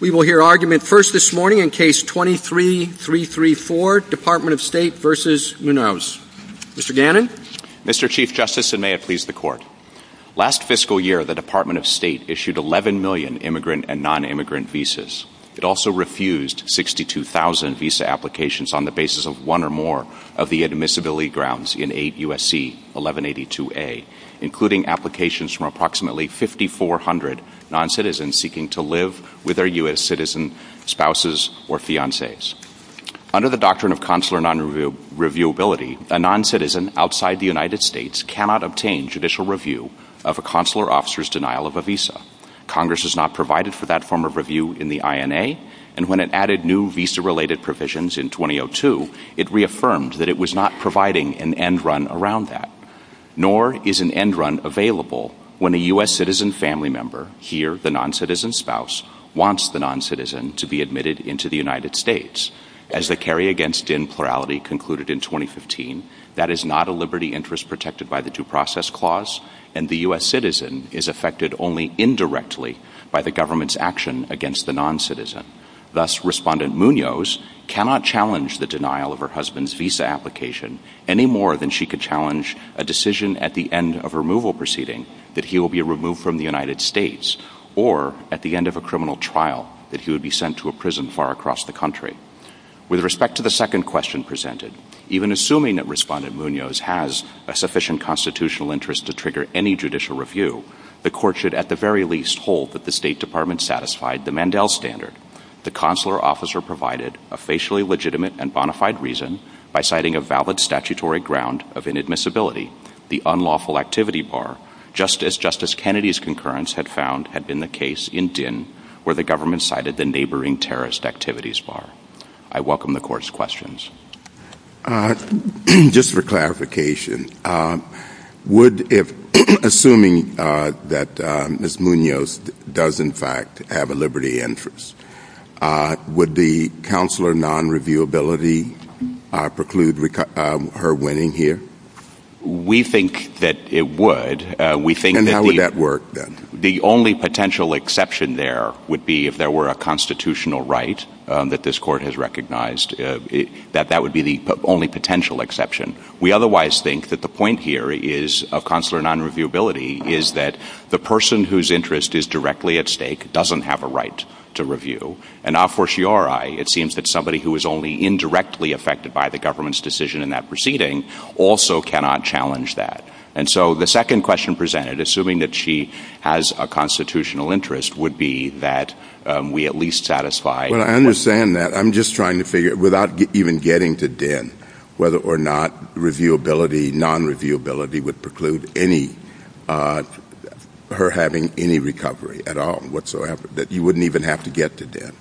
We will hear argument first this morning in Case 23-334, Department of State v. Munoz. Mr. Gannon. Mr. Chief Justice, and may it please the Court. Last fiscal year, the Department of State issued 11 million immigrant and nonimmigrant visas. It also refused 62,000 visa applications on the basis of one or more of the admissibility grounds in 8 U.S.C. 1182a, including applications from approximately 5,400 noncitizens seeking to live with their U.S. citizen spouses or fiancés. Under the doctrine of consular nonreviewability, a noncitizen outside the United States cannot obtain judicial review of a consular officer's denial of a visa. Congress has not provided for that form of review in the INA, and when it added new visa-related provisions in 2002, it reaffirmed that it was not providing an end run around that. Nor is an end run available when a U.S. citizen family member, here the noncitizen spouse, wants the noncitizen to be admitted into the United States. As the carry-against-din plurality concluded in 2015, that is not a liberty interest protected by the Due Process Clause, and the U.S. citizen is affected only indirectly by the government's action against the noncitizen. Thus, Respondent Munoz cannot challenge the denial of her husband's visa application any more than she could challenge a decision at the end of a removal proceeding that he will be removed from the United States, or at the end of a criminal trial that he would be sent to a prison far across the country. With respect to the second question presented, even assuming that Respondent Munoz has a sufficient constitutional interest to trigger any judicial review, the Court should at the very least hold that the State Department satisfied the Mandel Standard. The consular officer provided a facially legitimate and bona fide reason by citing a valid statutory ground of inadmissibility, the unlawful activity bar, just as Justice Kennedy's concurrence had found had been the case in Dinn, where the government cited the neighboring terrorist activities bar. I welcome the Court's questions. Just for clarification, assuming that Ms. Munoz does in fact have a liberty interest, would the consular non-reviewability preclude her winning here? We think that it would. And how would that work then? The only potential exception there would be if there were a constitutional right that this Court has recognized. That would be the only potential exception. We otherwise think that the point here of consular non-reviewability is that the person whose interest is directly at stake doesn't have a right to review. And a fortiori, it seems that somebody who is only indirectly affected by the government's decision in that proceeding also cannot challenge that. And so the second question presented, assuming that she has a constitutional interest, would be that we at least satisfy— Well, I understand that. I'm just trying to figure, without even getting to Dinn, whether or not reviewability, non-reviewability would preclude her having any recovery at all, whatsoever, that you wouldn't even have to get to Dinn.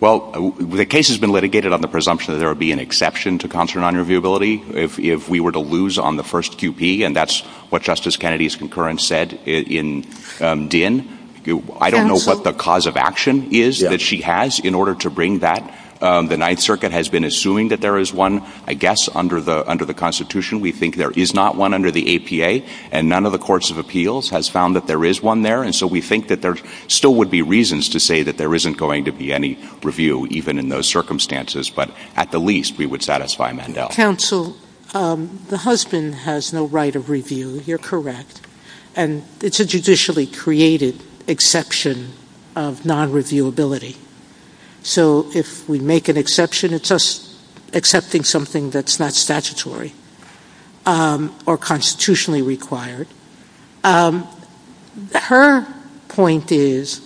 Well, the case has been litigated on the presumption that there would be an exception to consular non-reviewability if we were to lose on the first QP, and that's what Justice Kennedy's concurrence said in Dinn. I don't know what the cause of action is that she has in order to bring that. The Ninth Circuit has been assuming that there is one, I guess, under the Constitution. We think there is not one under the APA, and none of the courts of appeals has found that there is one there. And so we think that there still would be reasons to say that there isn't going to be any review, even in those circumstances. But at the least, we would satisfy Mandel. Counsel, the husband has no right of review. You're correct. And it's a judicially created exception of non-reviewability. So if we make an exception, it's us accepting something that's not statutory or constitutionally required. Her point is,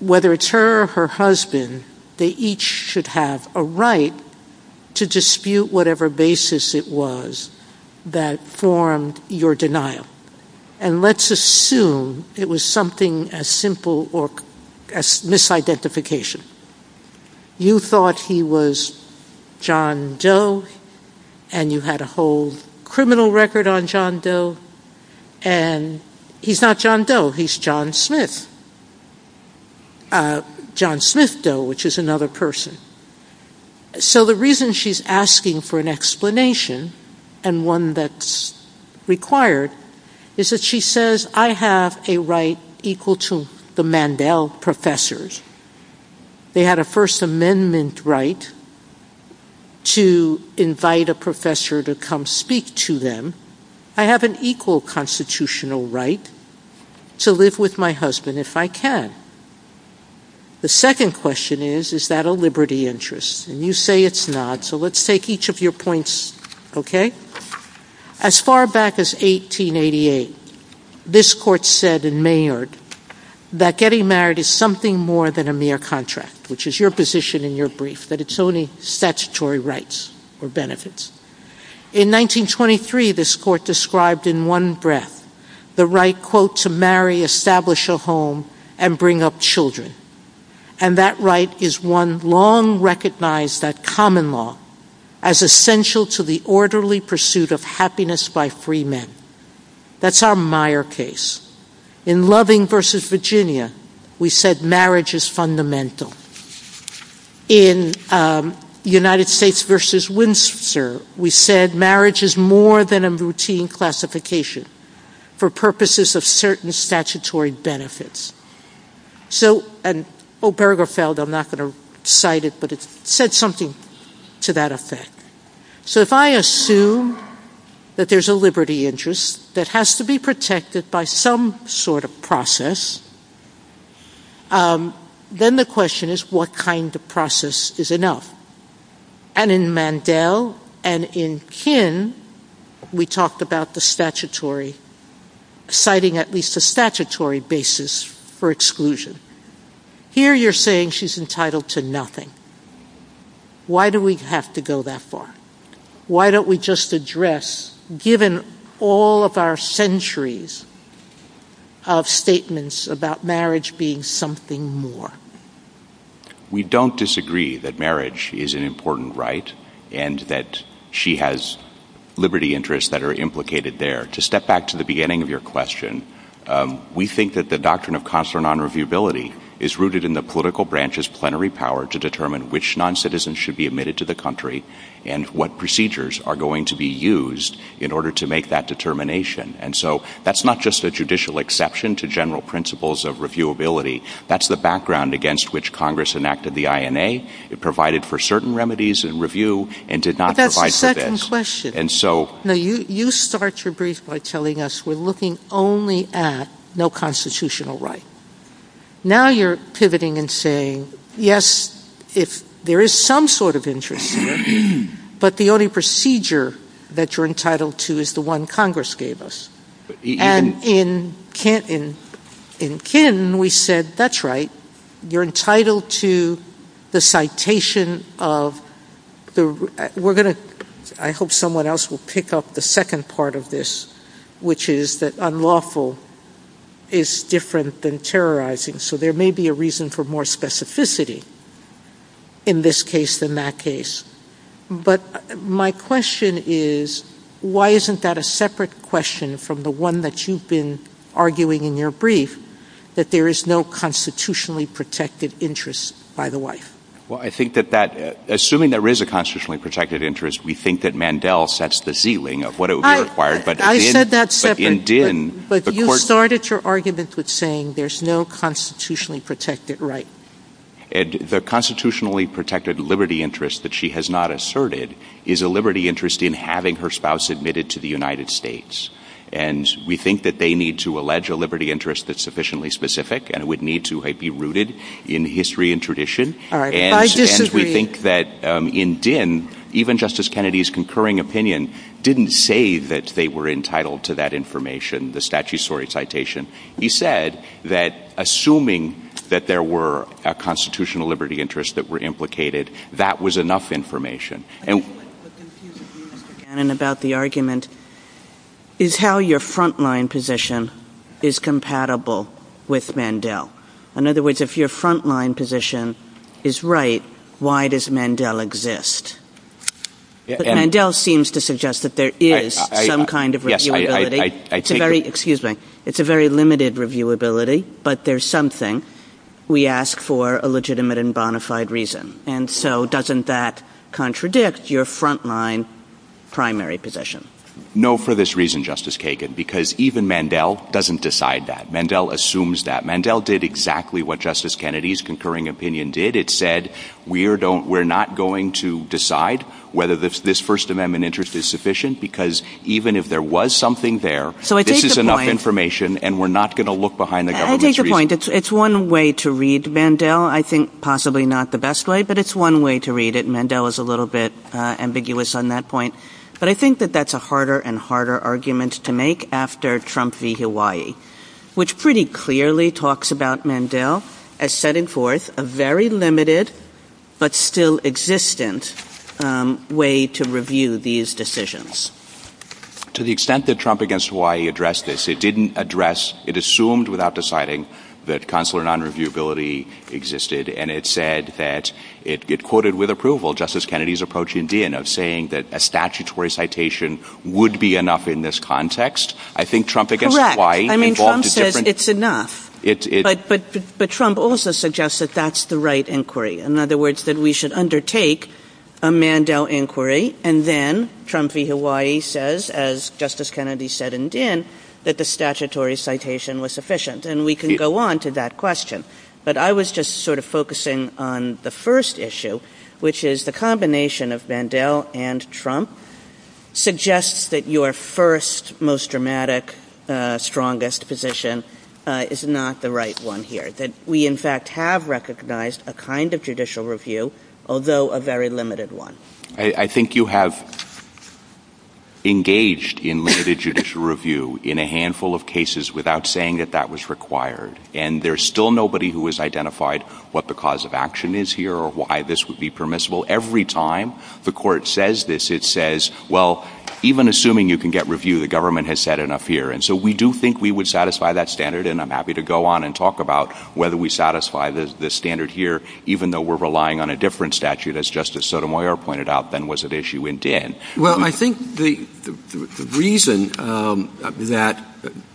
whether it's her or her husband, they each should have a right to dispute whatever basis it was that formed your denial. And let's assume it was something as simple as misidentification. You thought he was John Doe, and you had a whole criminal record on John Doe. And he's not John Doe, he's John Smith. John Smith Doe, which is another person. So the reason she's asking for an explanation, and one that's required, is that she says, I have a right equal to the Mandel professors. They had a First Amendment right to invite a professor to come speak to them. I have an equal constitutional right to live with my husband if I can. The second question is, is that a liberty interest? And you say it's not, so let's take each of your points. As far back as 1888, this court said in Mayard that getting married is something more than a mere contract, which is your position in your brief, that it's only statutory rights or benefits. In 1923, this court described in one breath the right, quote, to marry, establish a home, and bring up children. And that right is one long recognized at common law as essential to the orderly pursuit of happiness by free men. That's our Meyer case. In Loving v. Virginia, we said marriage is fundamental. In United States v. Winchester, we said marriage is more than a routine classification for purposes of certain statutory benefits. So, and Obergefell, I'm not going to cite it, but it said something to that effect. So if I assume that there's a liberty interest that has to be protected by some sort of process, then the question is, what kind of process is enough? And in Mandel and in Kinn, we talked about the statutory, citing at least a statutory basis for exclusion. Here you're saying she's entitled to nothing. Why do we have to go that far? Why don't we just address, given all of our centuries of statements about marriage being something more? We don't disagree that marriage is an important right and that she has liberty interests that are implicated there. To step back to the beginning of your question, we think that the doctrine of consular non-reviewability is rooted in the political branch's plenary power to determine which non-citizens should be admitted to the country and what procedures are going to be used in order to make that determination. And so that's not just a judicial exception to general principles of reviewability. That's the background against which Congress enacted the INA. It provided for certain remedies in review and did not provide for this. But that's the second question. And so... No, you start your brief by telling us we're looking only at no constitutional right. Now you're pivoting and saying, yes, if there is some sort of interest, but the only procedure that you're entitled to is the one Congress gave us. And in Kin we said, that's right. You're entitled to the citation of... We're going to... I hope someone else will pick up the second part of this, which is that unlawful is different than terrorizing. So there may be a reason for more specificity in this case than that case. But my question is, why isn't that a separate question from the one that you've been arguing in your brief, that there is no constitutionally protected interest by the wife? Well, I think that that... Assuming there is a constitutionally protected interest, we think that Mandel sets the ceiling of what it would require. I said that separately. But in Din... But you started your argument with saying there's no constitutionally protected right. The constitutionally protected liberty interest that she has not asserted is a liberty interest in having her spouse admitted to the United States. And we think that they need to allege a liberty interest that's sufficiently specific and would need to be rooted in history and tradition. All right, I disagree. We think that in Din, even Justice Kennedy's concurring opinion didn't say that they were entitled to that information, the statutory citation. He said that assuming that there were constitutional liberty interests that were implicated, that was enough information. And... What confused me about the argument is how your frontline position is compatible with Mandel. In other words, if your frontline position is right, why does Mandel exist? But Mandel seems to suggest that there is some kind of reviewability. Yes, I... It's a very... Excuse me. It's a very limited reviewability, but there's something we ask for a legitimate and bona fide reason. And so doesn't that contradict your frontline primary position? No, for this reason, Justice Kagan, because even Mandel doesn't decide that. Mandel assumes that. Mandel did exactly what Justice Kennedy's concurring opinion did. It said, we're not going to decide whether this First Amendment interest is sufficient, because even if there was something there, this is enough information, and we're not going to look behind the government's... I take your point. It's one way to read Mandel. I think possibly not the best way, but it's one way to read it. Mandel is a little bit ambiguous on that point. But I think that that's a harder and harder argument to make after Trump v. Hawaii, which pretty clearly talks about Mandel as setting forth a very limited, but still existent way to review these decisions. To the extent that Trump v. Hawaii addressed this, it didn't address... It assumed without deciding that consular non-reviewability existed, and it said that it quoted with approval Justice Kennedy's approach indeed, and of saying that a statutory citation would be enough in this context. I think Trump v. Hawaii... I mean, Trump says it's enough. But Trump also suggests that that's the right inquiry. In other words, that we should undertake a Mandel inquiry, and then Trump v. Hawaii says, as Justice Kennedy said and did, that the statutory citation was sufficient. And we can go on to that question. But I was just sort of focusing on the first issue, which is the combination of Mandel and Trump, suggests that your first, most dramatic, strongest position is not the right one here, that we in fact have recognized a kind of judicial review, although a very limited one. I think you have engaged in limited judicial review in a handful of cases without saying that that was required, and there's still nobody who has identified what the cause of action is here or why this would be permissible. Every time the court says this, it says, well, even assuming you can get review, the government has said enough here. And so we do think we would satisfy that standard, and I'm happy to go on and talk about whether we satisfy the standard here, even though we're relying on a different statute, as Justice Sotomayor pointed out, than was at issue in Din. Well, I think the reason that...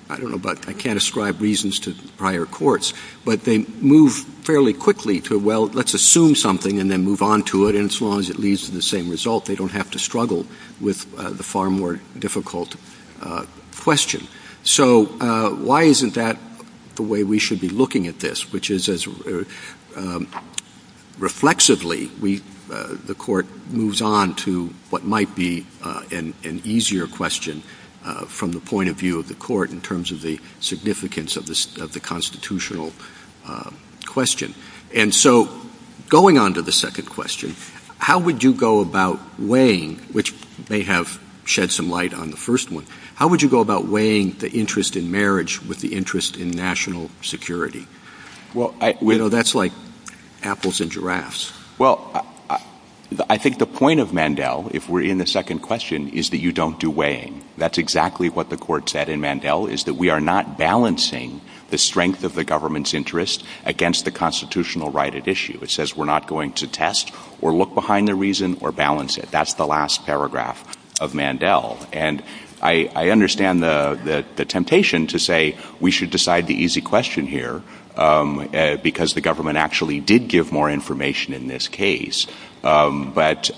I don't know, but I can't ascribe reasons to prior courts, but they move fairly quickly to, well, let's assume something and then move on to it, and as long as it leads to the same result, they don't have to struggle with the far more difficult question. So why isn't that the way we should be looking at this, which is reflexively the court moves on to what might be an easier question from the point of view of the court in terms of the significance of the constitutional question. And so going on to the second question, how would you go about weighing, which may have shed some light on the first one, how would you go about weighing the interest in marriage with the interest in national security? That's like apples and giraffes. Well, I think the point of Mandel, if we're in the second question, is that you don't do weighing. That's exactly what the court said in Mandel, is that we are not balancing the strength of the government's interest against the constitutional right at issue. It says we're not going to test or look behind the reason or balance it. That's the last paragraph of Mandel, and I understand the temptation to say we should decide the easy question here because the government actually did give more information in this case, but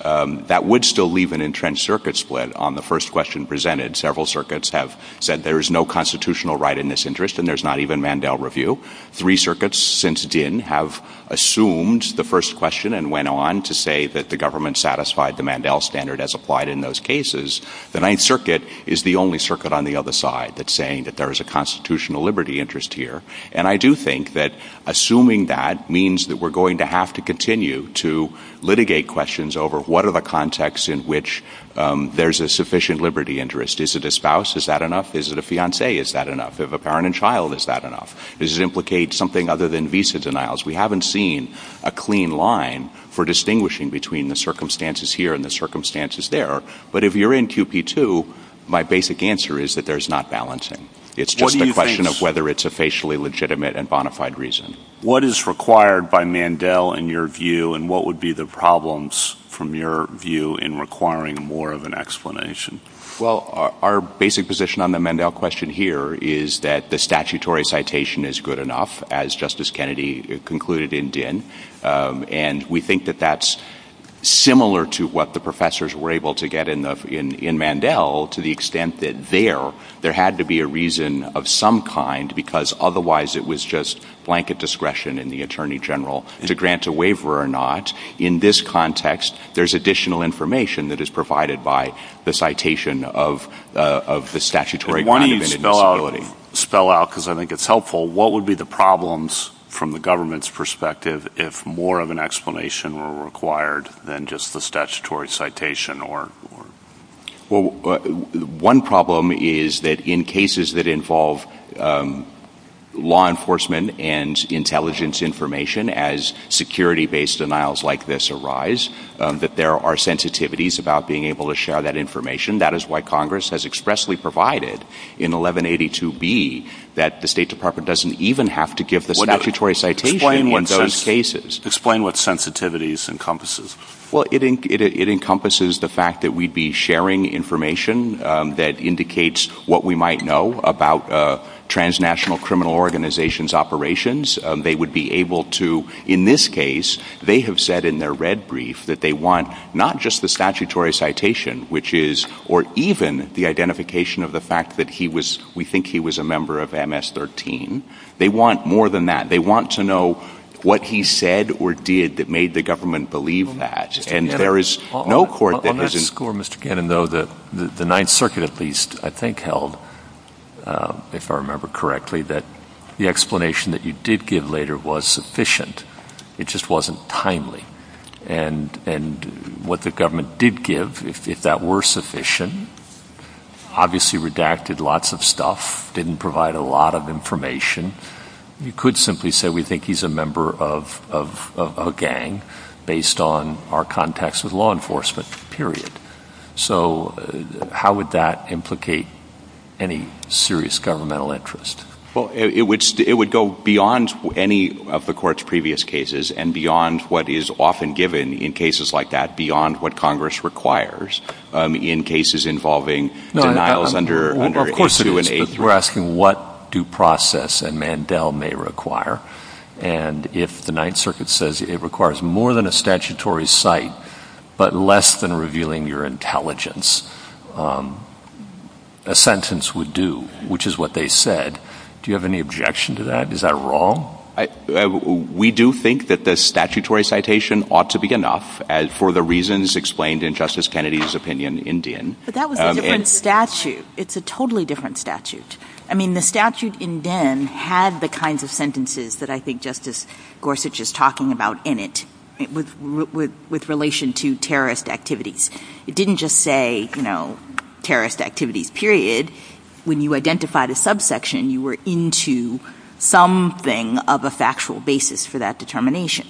that would still leave an entrenched circuit split on the first question presented. Several circuits have said there is no constitutional right in this interest, and there's not even Mandel review. Three circuits since Din have assumed the first question and went on to say that the government satisfied the Mandel standard as applied in those cases. The Ninth Circuit is the only circuit on the other side that's saying that there is a constitutional liberty interest here, and I do think that assuming that means that we're going to have to continue to litigate questions over what are the contexts in which there's a sufficient liberty interest. Is it a spouse? Is that enough? Is it a fiancé? Is that enough? If a parent and child, is that enough? Does it implicate something other than visa denials? We haven't seen a clean line for distinguishing between the circumstances here and the circumstances there, but if you're in QP2, my basic answer is that there's not balancing. It's just a question of whether it's a facially legitimate and bona fide reason. What is required by Mandel in your view, and what would be the problems from your view in requiring more of an explanation? Well, our basic position on the Mandel question here is that the statutory citation is good enough, as Justice Kennedy concluded and did, and we think that that's similar to what the professors were able to get in Mandel to the extent that there had to be a reason of some kind because otherwise it was just blanket discretion in the Attorney General to grant a waiver or not. In this context, there's additional information that is provided by the citation of the statutory grant of inadmissibility. Why don't you spell out, because I think it's helpful, what would be the problems from the government's perspective if more of an explanation were required than just the statutory citation? Well, one problem is that in cases that involve law enforcement and intelligence information as security-based denials like this arise, that there are sensitivities about being able to share that information. That is why Congress has expressly provided in 1182B that the State Department doesn't even have to give the statutory citation in those cases. Explain what sensitivities encompasses. Well, it encompasses the fact that we'd be sharing information that indicates what we might know about transnational criminal organizations' operations. They would be able to, in this case, they have said in their red brief that they want not just the statutory citation, which is, or even the identification of the fact that we think he was a member of MS-13. They want more than that. They want to know what he said or did that made the government believe that. And there is no court that doesn't... On this score, Mr. Cannon, though, the Ninth Circuit at least, I think, held, if I remember correctly, that the explanation that you did give later was sufficient. It just wasn't timely. And what the government did give, if that were sufficient, obviously redacted lots of stuff, didn't provide a lot of information. You could simply say we think he's a member of a gang based on our contacts with law enforcement, period. So how would that implicate any serious governmental interest? Well, it would go beyond any of the court's previous cases and beyond what is often given in cases like that, beyond what Congress requires in cases involving denials under H-2 and H-3. No, of course it is, but you're asking what due process a Mandel may require. And if the Ninth Circuit says it requires more than a statutory cite, but less than revealing your intelligence, a sentence would do, which is what they said. Do you have any objection to that? Is that wrong? We do think that the statutory citation ought to be enough for the reasons explained in Justice Kennedy's opinion in Din. But that was a different statute. It's a totally different statute. I mean, the statute in Din had the kinds of sentences that I think Justice Gorsuch is talking about in it with relation to terrorist activities. It didn't just say terrorist activities, period. When you identified a subsection, you were into something of a factual basis for that determination.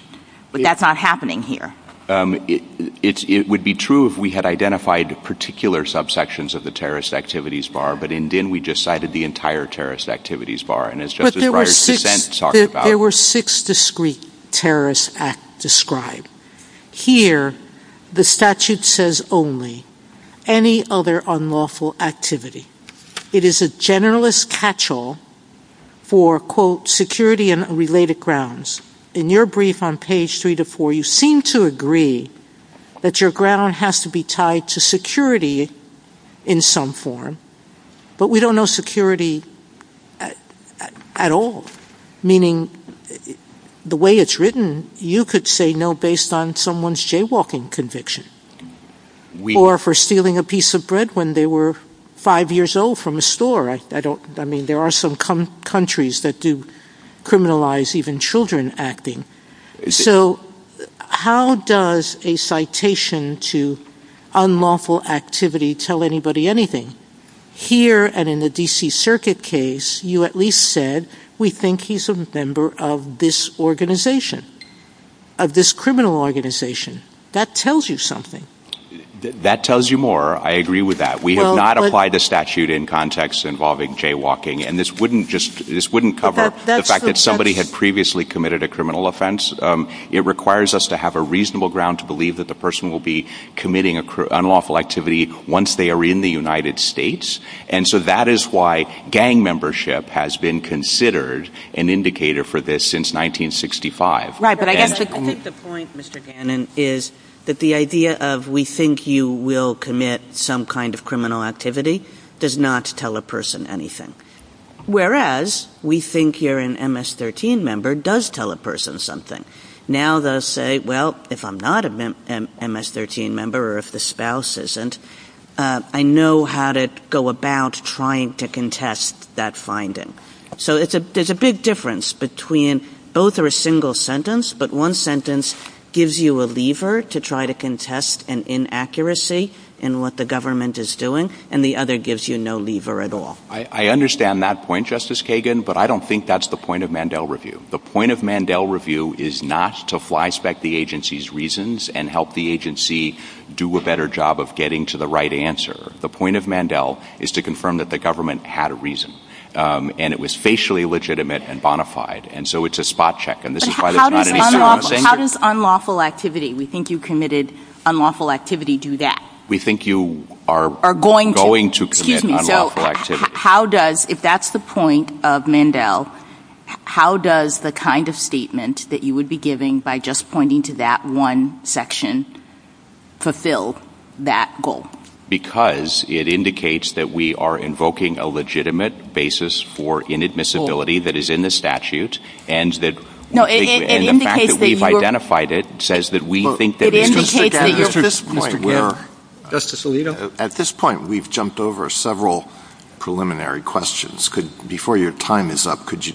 But that's not happening here. It would be true if we had identified particular subsections of the terrorist activities bar, but in Din we just cited the entire terrorist activities bar. But there were six discreet terrorist acts described. Here, the statute says only any other unlawful activity. It is a generalist catch-all for, quote, security and related grounds. In your brief on page 3-4, you seem to agree that your ground has to be tied to security in some form, but we don't know security at all, meaning the way it's written, you could say no based on someone's jaywalking conviction or for stealing a piece of bread when they were five years old from a store. I mean, there are some countries that do criminalize even children acting. So how does a citation to unlawful activity tell anybody anything? Here and in the D.C. Circuit case, you at least said we think he's a member of this organization, of this criminal organization. That tells you something. That tells you more. I agree with that. We have not applied the statute in context involving jaywalking, and this wouldn't cover the fact that somebody had previously committed a criminal offense. It requires us to have a reasonable ground to believe that the person will be committing unlawful activity once they are in the United States, and so that is why gang membership has been considered an indicator for this since 1965. Right, but I think the point, Mr. Gannon, is that the idea of we think you will commit some kind of criminal activity does not tell a person anything. Whereas we think you're an MS-13 member does tell a person something. Now they'll say, well, if I'm not an MS-13 member or if the spouse isn't, I know how to go about trying to contest that finding. So there's a big difference between both are a single sentence, but one sentence gives you a lever to try to contest an inaccuracy in what the government is doing, and the other gives you no lever at all. I understand that point, Justice Kagan, but I don't think that's the point of Mandel review. The point of Mandel review is not to flyspeck the agency's reasons and help the agency do a better job of getting to the right answer. The point of Mandel is to confirm that the government had a reason, and it was facially legitimate and bona fide, and so it's a spot check, and this is why there's not an indicator. How does unlawful activity, we think you committed unlawful activity, do that? We think you are going to commit unlawful activity. How does, if that's the point of Mandel, how does the kind of statement that you would be giving by just pointing to that one section fulfill that goal? Because it indicates that we are invoking a legitimate basis for inadmissibility that is in the statute, and the fact that we've identified it At this point, we've jumped over several preliminary questions. Before your time is up, could you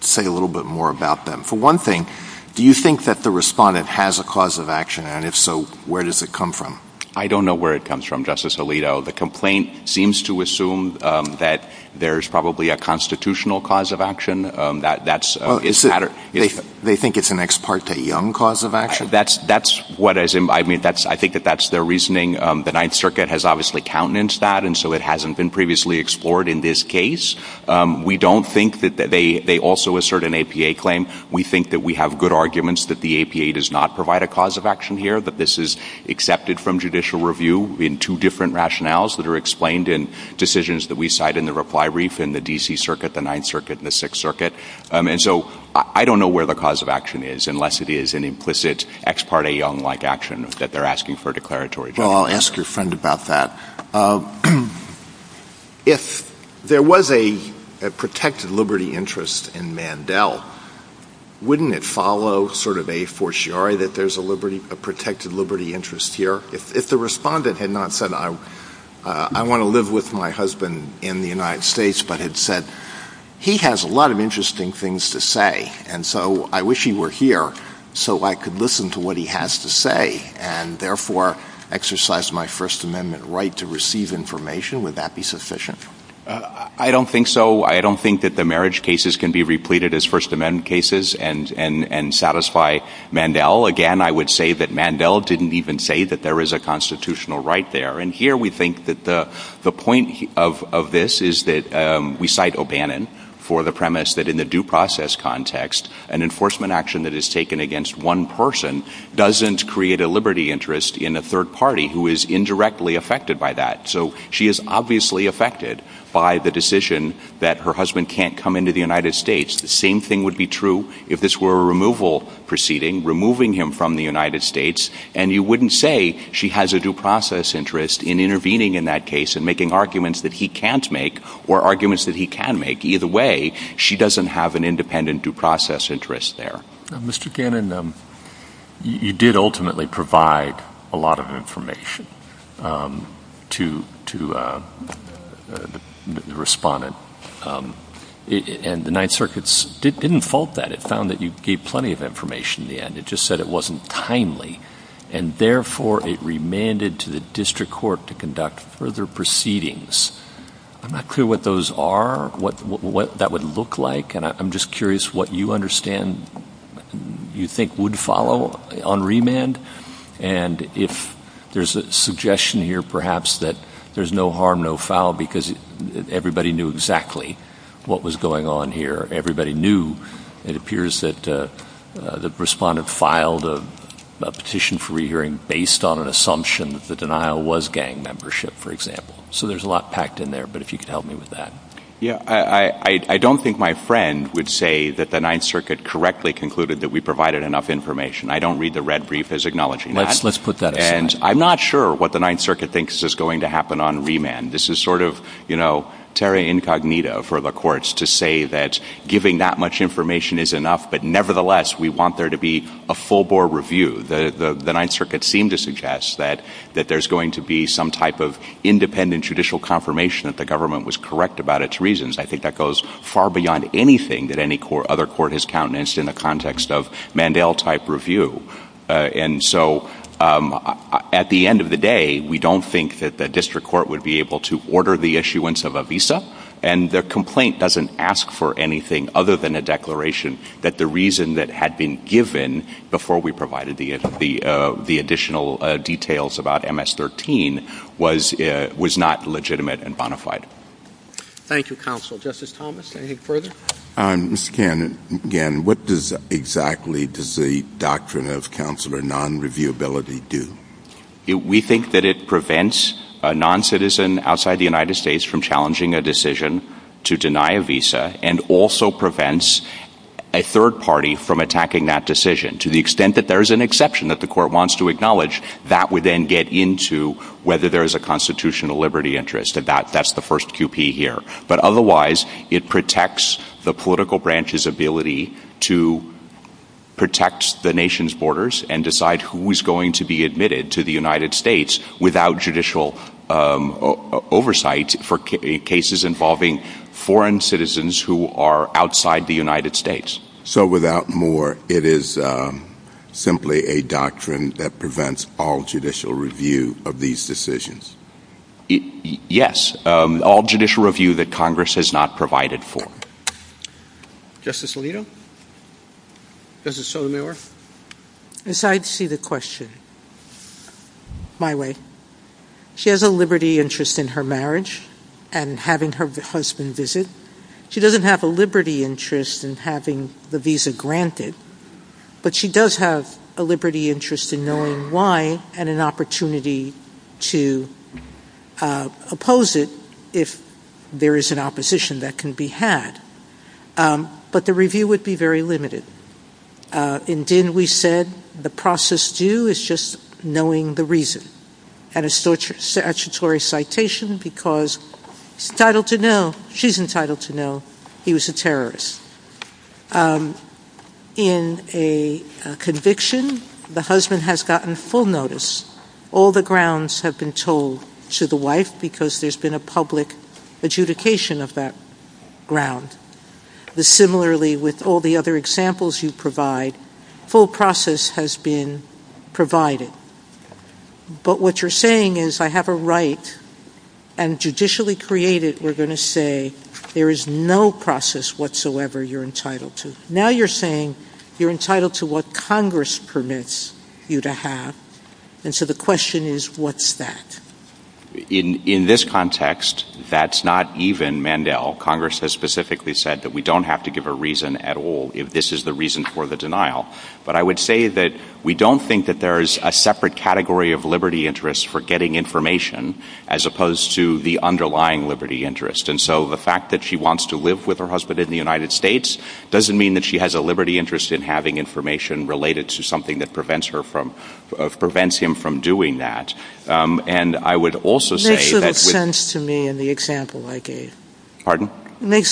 say a little bit more about them? For one thing, do you think that the respondent has a cause of action, and if so, where does it come from? I don't know where it comes from, Justice Alito. The complaint seems to assume that there's probably a constitutional cause of action. They think it's an ex parte young cause of action? I think that that's their reasoning. The Ninth Circuit has obviously countenanced that, and so it hasn't been previously explored in this case. We don't think that they also assert an APA claim. We think that we have good arguments that the APA does not provide a cause of action here, that this is accepted from judicial review in two different rationales that are explained in decisions that we cite in the reply brief in the D.C. Circuit, the Ninth Circuit, and the Sixth Circuit. And so I don't know where the cause of action is unless it is an implicit ex parte young-like action that they're asking for a declaratory document. Well, I'll ask your friend about that. If there was a protected liberty interest in Mandel, wouldn't it follow sort of a fortiori that there's a protected liberty interest here? If the respondent had not said, I want to live with my husband in the United States, but had said, he has a lot of interesting things to say, and so I wish he were here so I could listen to what he has to say and therefore exercise my First Amendment right to receive information, would that be sufficient? I don't think so. I don't think that the marriage cases can be repleted as First Amendment cases and satisfy Mandel. Again, I would say that Mandel didn't even say that there is a constitutional right there. And here we think that the point of this is that we cite O'Bannon for the premise that in the due process context, an enforcement action that is taken against one person doesn't create a liberty interest in a third party who is indirectly affected by that. So she is obviously affected by the decision that her husband can't come into the United States. The same thing would be true if this were a removal proceeding, removing him from the United States, and you wouldn't say she has a due process interest in intervening in that case and making arguments that he can't make or arguments that he can make. Either way, she doesn't have an independent due process interest there. Mr. Cannon, you did ultimately provide a lot of information to the respondent, and the Ninth Circuit didn't fault that. It found that you gave plenty of information at the end. It just said it wasn't timely, and therefore it remanded to the district court to conduct further proceedings. I'm not clear what those are, what that would look like, and I'm just curious what you understand you think would follow on remand, and if there's a suggestion here perhaps that there's no harm, no foul, because everybody knew exactly what was going on here. It appears that the respondent filed a petition for re-hearing based on an assumption that the denial was gang membership, for example. So there's a lot packed in there, but if you could help me with that. I don't think my friend would say that the Ninth Circuit correctly concluded that we provided enough information. I don't read the red brief as acknowledging that, and I'm not sure what the Ninth Circuit thinks is going to happen on remand. This is sort of terra incognita for the courts to say that giving that much information is enough, but nevertheless we want there to be a full-bore review. The Ninth Circuit seemed to suggest that there's going to be some type of independent judicial confirmation that the government was correct about its reasons. I think that goes far beyond anything that any other court has countenanced in the context of Mandel-type review. And so at the end of the day, we don't think that the district court would be able to order the issuance of a visa, and the complaint doesn't ask for anything other than a declaration that the reason that had been given before we provided the additional details about MS-13 was not legitimate and bona fide. Thank you, Counsel. Justice Thomas, anything further? Mr. Gannon, what does exactly does the doctrine of counselor non-reviewability do? We think that it prevents a non-citizen outside the United States from challenging a decision to deny a visa and also prevents a third party from attacking that decision. To the extent that there is an exception that the court wants to acknowledge, that would then get into whether there is a constitutional liberty interest, and that's the first QP here. But otherwise, it protects the political branch's ability to protect the nation's borders and decide who is going to be admitted to the United States without judicial oversight for cases involving foreign citizens who are outside the United States. So without more, it is simply a doctrine that prevents all judicial review of these decisions? Yes, all judicial review that Congress has not provided for. Justice Alito? Justice Sotomayor? I'm sorry to see the question. My way. She has a liberty interest in her marriage and having her husband visit. She doesn't have a liberty interest in having the visa granted, but she does have a liberty interest in knowing why and an opportunity to oppose it if there is an opposition that can be had. But the review would be very limited. In Dinn, we said the process due is just knowing the reason. Had a statutory citation because she's entitled to know he was a terrorist. In a conviction, the husband has gotten full notice. All the grounds have been told to the wife because there's been a public adjudication of that ground. Similarly, with all the other examples you provide, full process has been provided. But what you're saying is I have a right and judicially created we're going to say there is no process whatsoever you're entitled to. Now you're saying you're entitled to what Congress permits you to have. And so the question is, what's that? In this context, that's not even Mandel. Congress has specifically said that we don't have to give a reason at all if this is the reason for the denial. But I would say that we don't think that there is a separate category of liberty interest for getting information as opposed to the underlying liberty interest. And so the fact that she wants to live with her husband in the United States doesn't mean that she has a liberty interest in having information related to something that prevents him from doing that. And I would also say... Pardon? But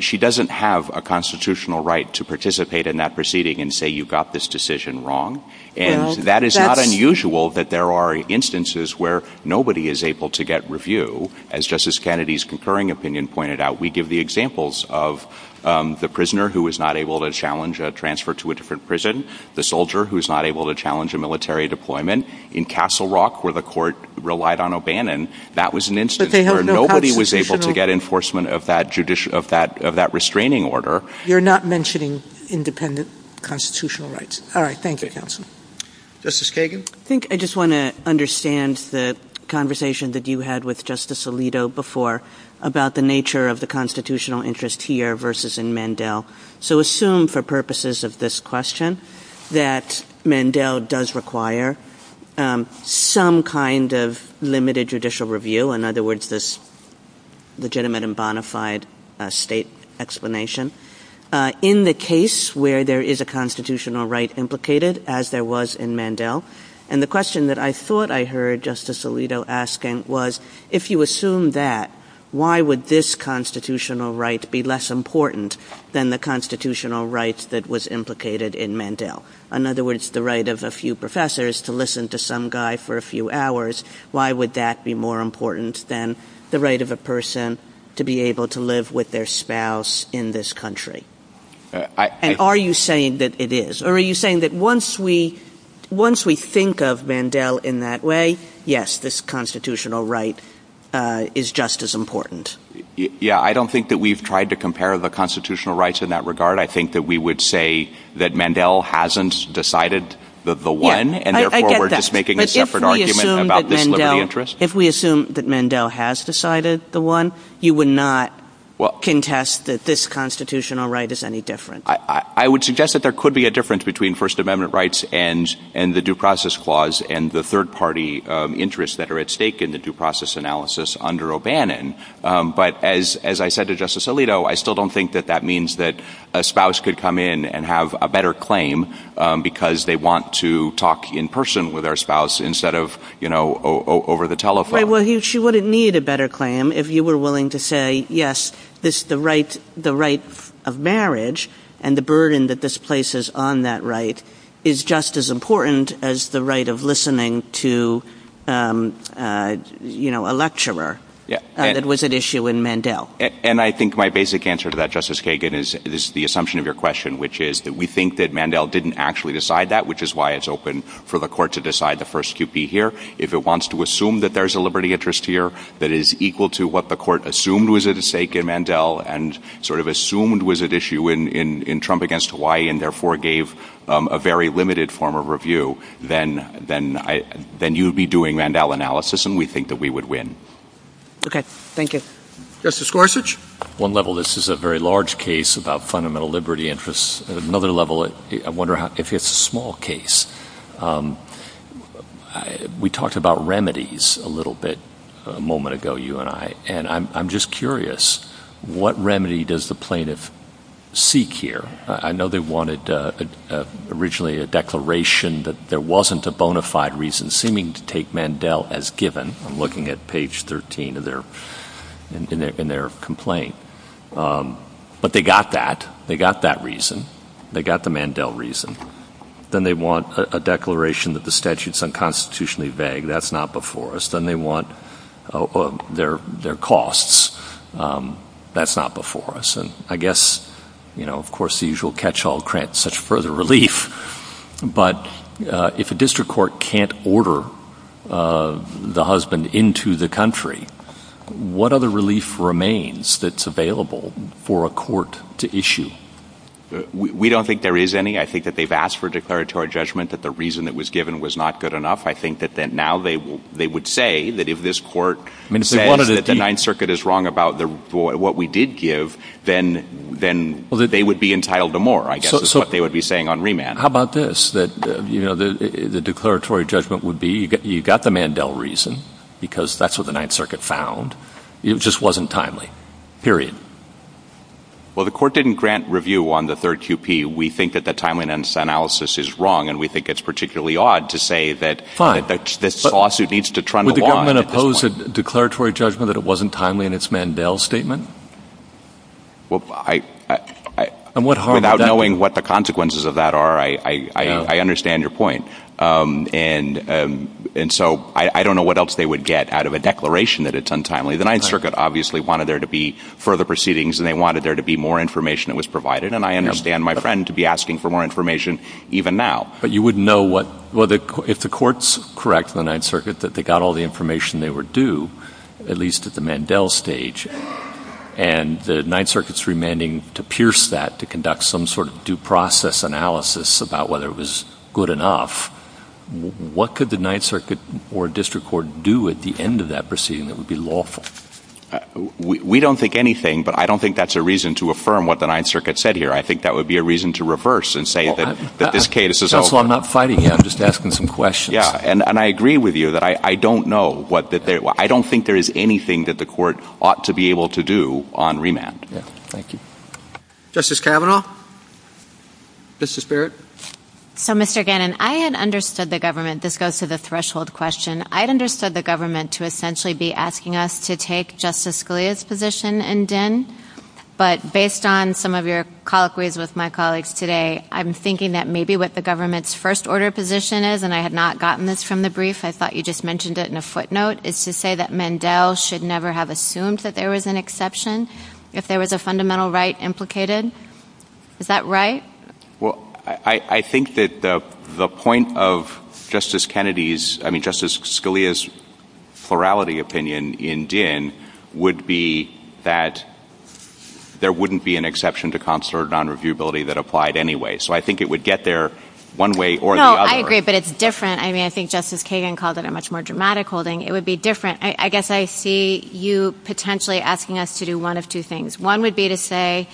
she doesn't have a constitutional right to participate in that proceeding and say you got this decision wrong. And that is not unusual that there are instances where nobody is able to get review, as Justice Kennedy's concurring opinion pointed out. We give the examples of the prisoner who was not able to challenge a transfer to a different prison, the soldier who was not able to challenge a military deployment. In Castle Rock, where the court relied on O'Bannon, that was an instance where nobody was able to get enforcement of that restraining order. You're not mentioning independent constitutional rights. All right, thank you. Thank you. Justice Kagan? I think I just want to understand the conversation that you had with Justice Alito before about the nature of the constitutional interest here versus in Mandel. So assume, for purposes of this question, that Mandel does require some kind of limited judicial review, in other words, this legitimate and bona fide state explanation, in the case where there is a constitutional right implicated, as there was in Mandel. And the question that I thought I heard Justice Alito asking was, if you assume that, why would this constitutional right be less important than the constitutional rights that was implicated in Mandel? In other words, the right of a few professors to listen to some guy for a few hours, why would that be more important than the right of a person to be able to live with their spouse in this country? And are you saying that it is? Or are you saying that once we think of Mandel in that way, yes, this constitutional right is just as important? Yeah, I don't think that we've tried to compare the constitutional rights in that regard. I think that we would say that Mandel hasn't decided the one, and therefore we're just making a separate argument about this liberty interest. If we assume that Mandel has decided the one, you would not contest that this constitutional right is any different. I would suggest that there could be a difference between First Amendment rights and the Due Process Clause and the third-party interests that are at stake in the Due Process Analysis under O'Bannon. But as I said to Justice Alito, I still don't think that that means that a spouse could come in and have a better claim because they want to talk in person with their spouse instead of over the telephone. She wouldn't need a better claim if you were willing to say, yes, the right of marriage and the burden that this place has on that right is just as important as the right of listening to a lecturer that was at issue in Mandel. And I think my basic answer to that, Justice Kagan, is the assumption of your question, which is that we think that Mandel didn't actually decide that, which is why it's open for the court to decide the first QP here. If it wants to assume that there's a liberty interest here that is equal to what the court assumed was at stake in Mandel and sort of assumed was at issue in Trump against Hawaii and therefore gave a very limited form of review, then you'd be doing Mandel analysis and we think that we would win. Okay, thank you. Justice Gorsuch? On one level, this is a very large case about fundamental liberty interests. On another level, I wonder if it's a small case. We talked about remedies a little bit a moment ago, you and I, and I'm just curious, what remedy does the plaintiff seek here? I know they wanted originally a declaration that there wasn't a bona fide reason seeming to take Mandel as given. I'm looking at page 13 in their complaint. But they got that. They got that reason. They got the Mandel reason. Then they want a declaration that the statute's unconstitutionally vague. That's not before us. Then they want their costs. That's not before us. I guess, of course, the usual catch-all grants such further relief. But if a district court can't order the husband into the country, what other relief remains that's available for a court to issue? We don't think there is any. I think that they've asked for a declaratory judgment that the reason that was given was not good enough. I think that now they would say that if this court said that the Ninth Circuit is wrong about what we did give, then they would be entitled to more, I guess, is what they would be saying on remand. How about this? The declaratory judgment would be you got the Mandel reason because that's what the Ninth Circuit found. It just wasn't timely. Period. Well, the court didn't grant review on the third QP. We think that the timeline analysis is wrong and we think it's particularly odd to say that this lawsuit needs to trundle off at this point. Would the government oppose a declaratory judgment that it wasn't timely in its Mandel statement? Well, I... Without knowing what the consequences of that are, I understand your point. And so I don't know what else they would get out of a declaration that it's untimely. The Ninth Circuit obviously wanted there to be further proceedings and they wanted there to be more information that was provided, and I understand my friend to be asking for more information even now. But you wouldn't know what... If the court's correct in the Ninth Circuit that they got all the information they were due, at least at the Mandel stage, and the Ninth Circuit's remanding to pierce that to conduct some sort of due process analysis about whether it was good enough, what could the Ninth Circuit or district court do at the end of that proceeding that would be lawful? We don't think anything, but I don't think that's a reason to affirm what the Ninth Circuit said here. I think that would be a reason to reverse and say that this case is... That's why I'm not fighting you. I'm just asking some questions. Yeah, and I agree with you that I don't know what the... I don't think there is anything that the court ought to be able to do on remand. Thank you. Justice Kavanaugh? Justice Barrett? So, Mr. Gannon, I had understood the government... This goes to the threshold question. I'd understood the government to essentially be asking us to take Justice Scalia's position in DIN, but based on some of your colloquies with my colleagues today, I'm thinking that maybe what the government's first-order position is, and I had not gotten this from the brief. I thought you just mentioned it in a footnote. It's to say that Mandel should never have assumed that there was an exception if there was a fundamental right implicated. Is that right? Well, I think that the point of Justice Kennedy's... I mean, Justice Scalia's plurality opinion in DIN would be that there wouldn't be an exception to consular nonreviewability that applied anyway. So I think it would get there one way or the other. No, I agree, but it's different. I mean, I think Justice Kagan called it a much more dramatic holding. It would be different. I guess I see you potentially asking us to do one of two things. One would be to say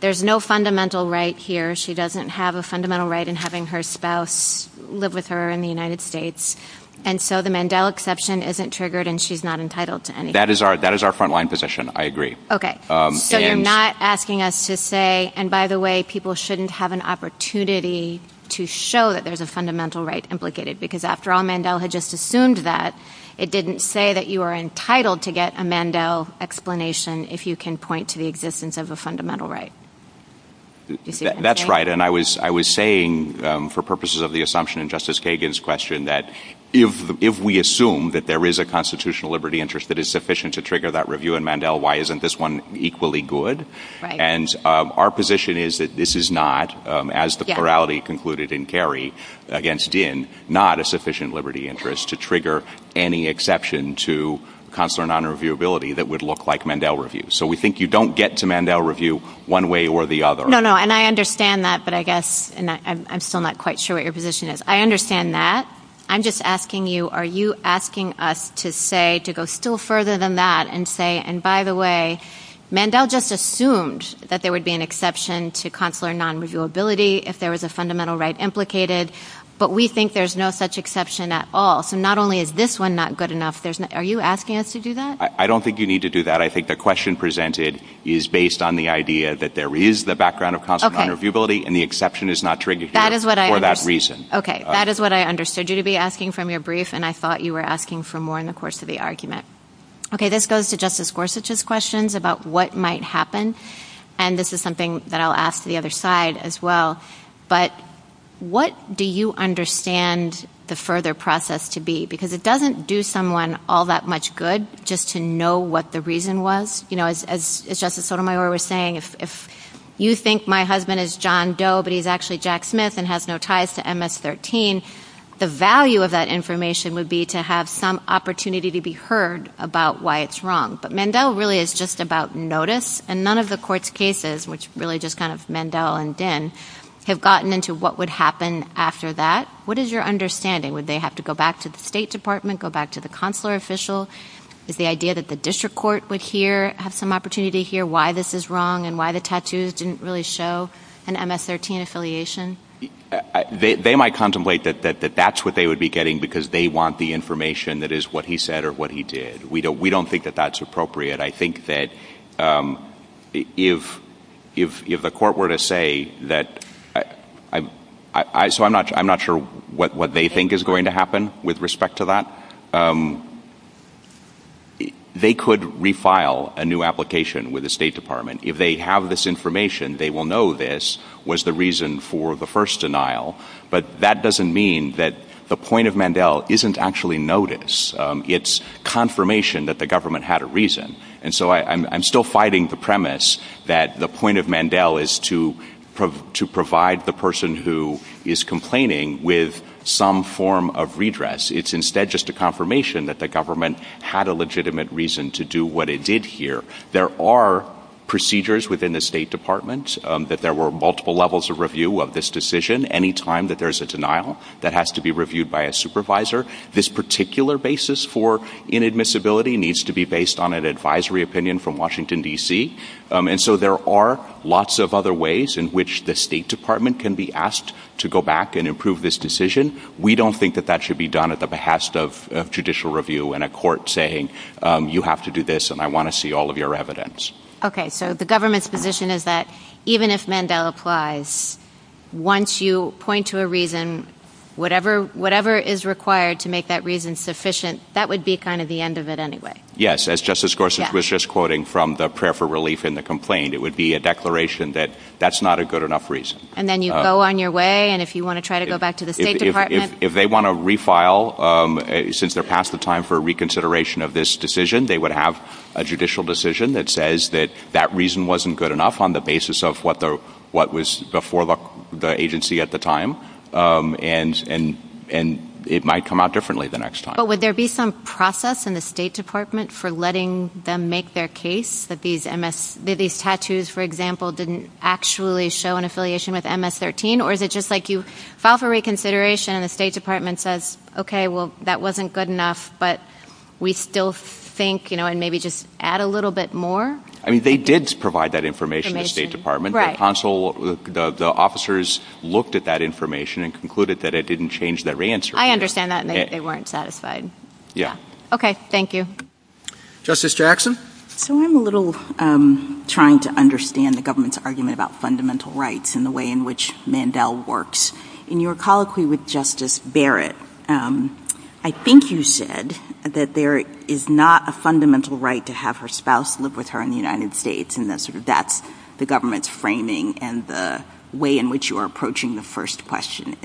there's no fundamental right here. She doesn't have a fundamental right in having her spouse live with her in the United States, and so the Mandel exception isn't triggered and she's not entitled to anything. That is our front-line position. I agree. Okay. So you're not asking us to say, and by the way, people shouldn't have an opportunity to show that there's a fundamental right implicated because after all, Mandel had just assumed that it didn't say that you are entitled to get a Mandel explanation if you can point to the existence of a fundamental right. That's right, and I was saying for purposes of the assumption in Justice Kagan's question that if we assume that there is a constitutional liberty interest that is sufficient to trigger that review in Mandel, why isn't this one equally good? And our position is that this is not, as the plurality concluded in Kerry against Dinh, not a sufficient liberty interest to trigger any exception to consular nonreviewability that would look like Mandel review. So we think you don't get to Mandel review one way or the other. No, no, and I understand that, but I guess, and I'm still not quite sure what your position is. I understand that. I'm just asking you, are you asking us to say, to go still further than that and say, and by the way, Mandel just assumed that there would be an exception to consular nonreviewability if there was a fundamental right implicated, but we think there's no such exception at all. So not only is this one not good enough, are you asking us to do that? I don't think you need to do that. I think the question presented is based on the idea that there is the background of consular nonreviewability and the exception is not triggering for that reason. Okay, that is what I understood you to be asking from your brief, and I thought you were asking for more in the course of the argument. Okay, this goes to Justice Gorsuch's questions about what might happen, and this is something that I'll ask the other side as well, but what do you understand the further process to be? Because it doesn't do someone all that much good just to know what the reason was. As Justice Sotomayor was saying, if you think my husband is John Doe, but he's actually Jack Smith and has no ties to MS-13, the value of that information would be to have some opportunity to be heard about why it's wrong. But Mandel really is just about notice, and none of the court's cases, which really just kind of Mandel and Dinh, have gotten into what would happen after that. What is your understanding? Would they have to go back to the State Department, go back to the consular official? Is the idea that the district court would hear, have some opportunity to hear why this is wrong and why the tattoos didn't really show an MS-13 affiliation? They might contemplate that that's what they would be getting because they want the information that is what he said or what he did. We don't think that that's appropriate. I think that if the court were to say that I'm not sure what they think is going to happen with respect to that, they could refile a new application with the State Department. If they have this information, they will know this was the reason for the first denial, but that doesn't mean that the point of Mandel isn't actually notice. It's confirmation that the government had a reason. And so I'm still fighting the premise that the point of Mandel is to provide the person who is complaining with some form of redress. It's instead just a confirmation that the government had a legitimate reason to do what it did here. There are procedures within the State Department that there were multiple levels of review of this decision any time that there's a denial that has to be reviewed by a supervisor. This particular basis for inadmissibility needs to be based on an advisory opinion from Washington, D.C. And so there are lots of other ways in which the State Department can be asked to go back and improve this decision. We don't think that that should be done at the behest of judicial review and a court saying you have to do this and I want to see all of your evidence. Okay, so the government's position is that even if Mandel applies, once you point to a reason, whatever is required to make that reason sufficient, that would be kind of the end of it anyway. Yes, as Justice Gorsuch was just quoting from the prayer for relief in the complaint, it would be a declaration that that's not a good enough reason. And then you go on your way and if you want to try to go back to the State Department. If they want to refile, since they're past the time for reconsideration of this decision, they would have a judicial decision that says that that reason wasn't good enough on the basis of what was before the agency at the time. And it might come out differently the next time. But would there be some process in the State Department for letting them make their case that these tattoos, for example, didn't actually show an affiliation with MS-13? Or is it just like you file for reconsideration and the State Department says, okay, well, that wasn't good enough, but we still think, you know, and maybe just add a little bit more? I mean, they did provide that information to the State Department. The consul, the officers looked at that information and concluded that it didn't change their answer. I understand that. They weren't satisfied. Yeah. Okay. Thank you. Justice Jackson? So I'm a little trying to understand the government's argument about fundamental rights and the way in which Mandel works. In your colloquy with Justice Barrett, I think you said that there is not a fundamental right to have her spouse live with her in the United States, and that's the government's framing and the way in which you are approaching the first question.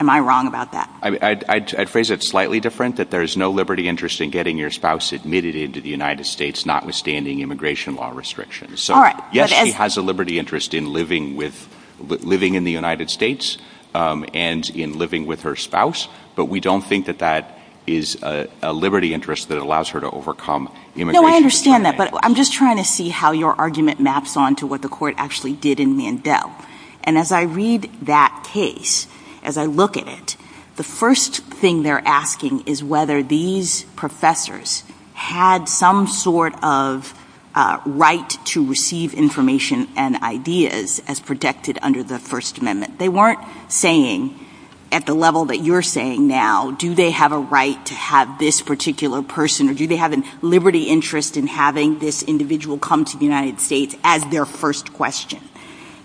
Am I wrong about that? I'd phrase it slightly different, that there is no liberty interest in getting your spouse admitted into the United States, notwithstanding immigration law restrictions. Yes, she has a liberty interest in living in the United States and in living with her spouse, but we don't think that that is a liberty interest that allows her to overcome immigration. No, I understand that, but I'm just trying to see how your argument maps on to what the court actually did in Mandel. And as I read that case, as I look at it, the first thing they're asking is whether these professors had some sort of right to receive information and ideas as protected under the First Amendment. They weren't saying, at the level that you're saying now, do they have a right to have this particular person, or do they have a liberty interest in having this individual come to the United States as their first question.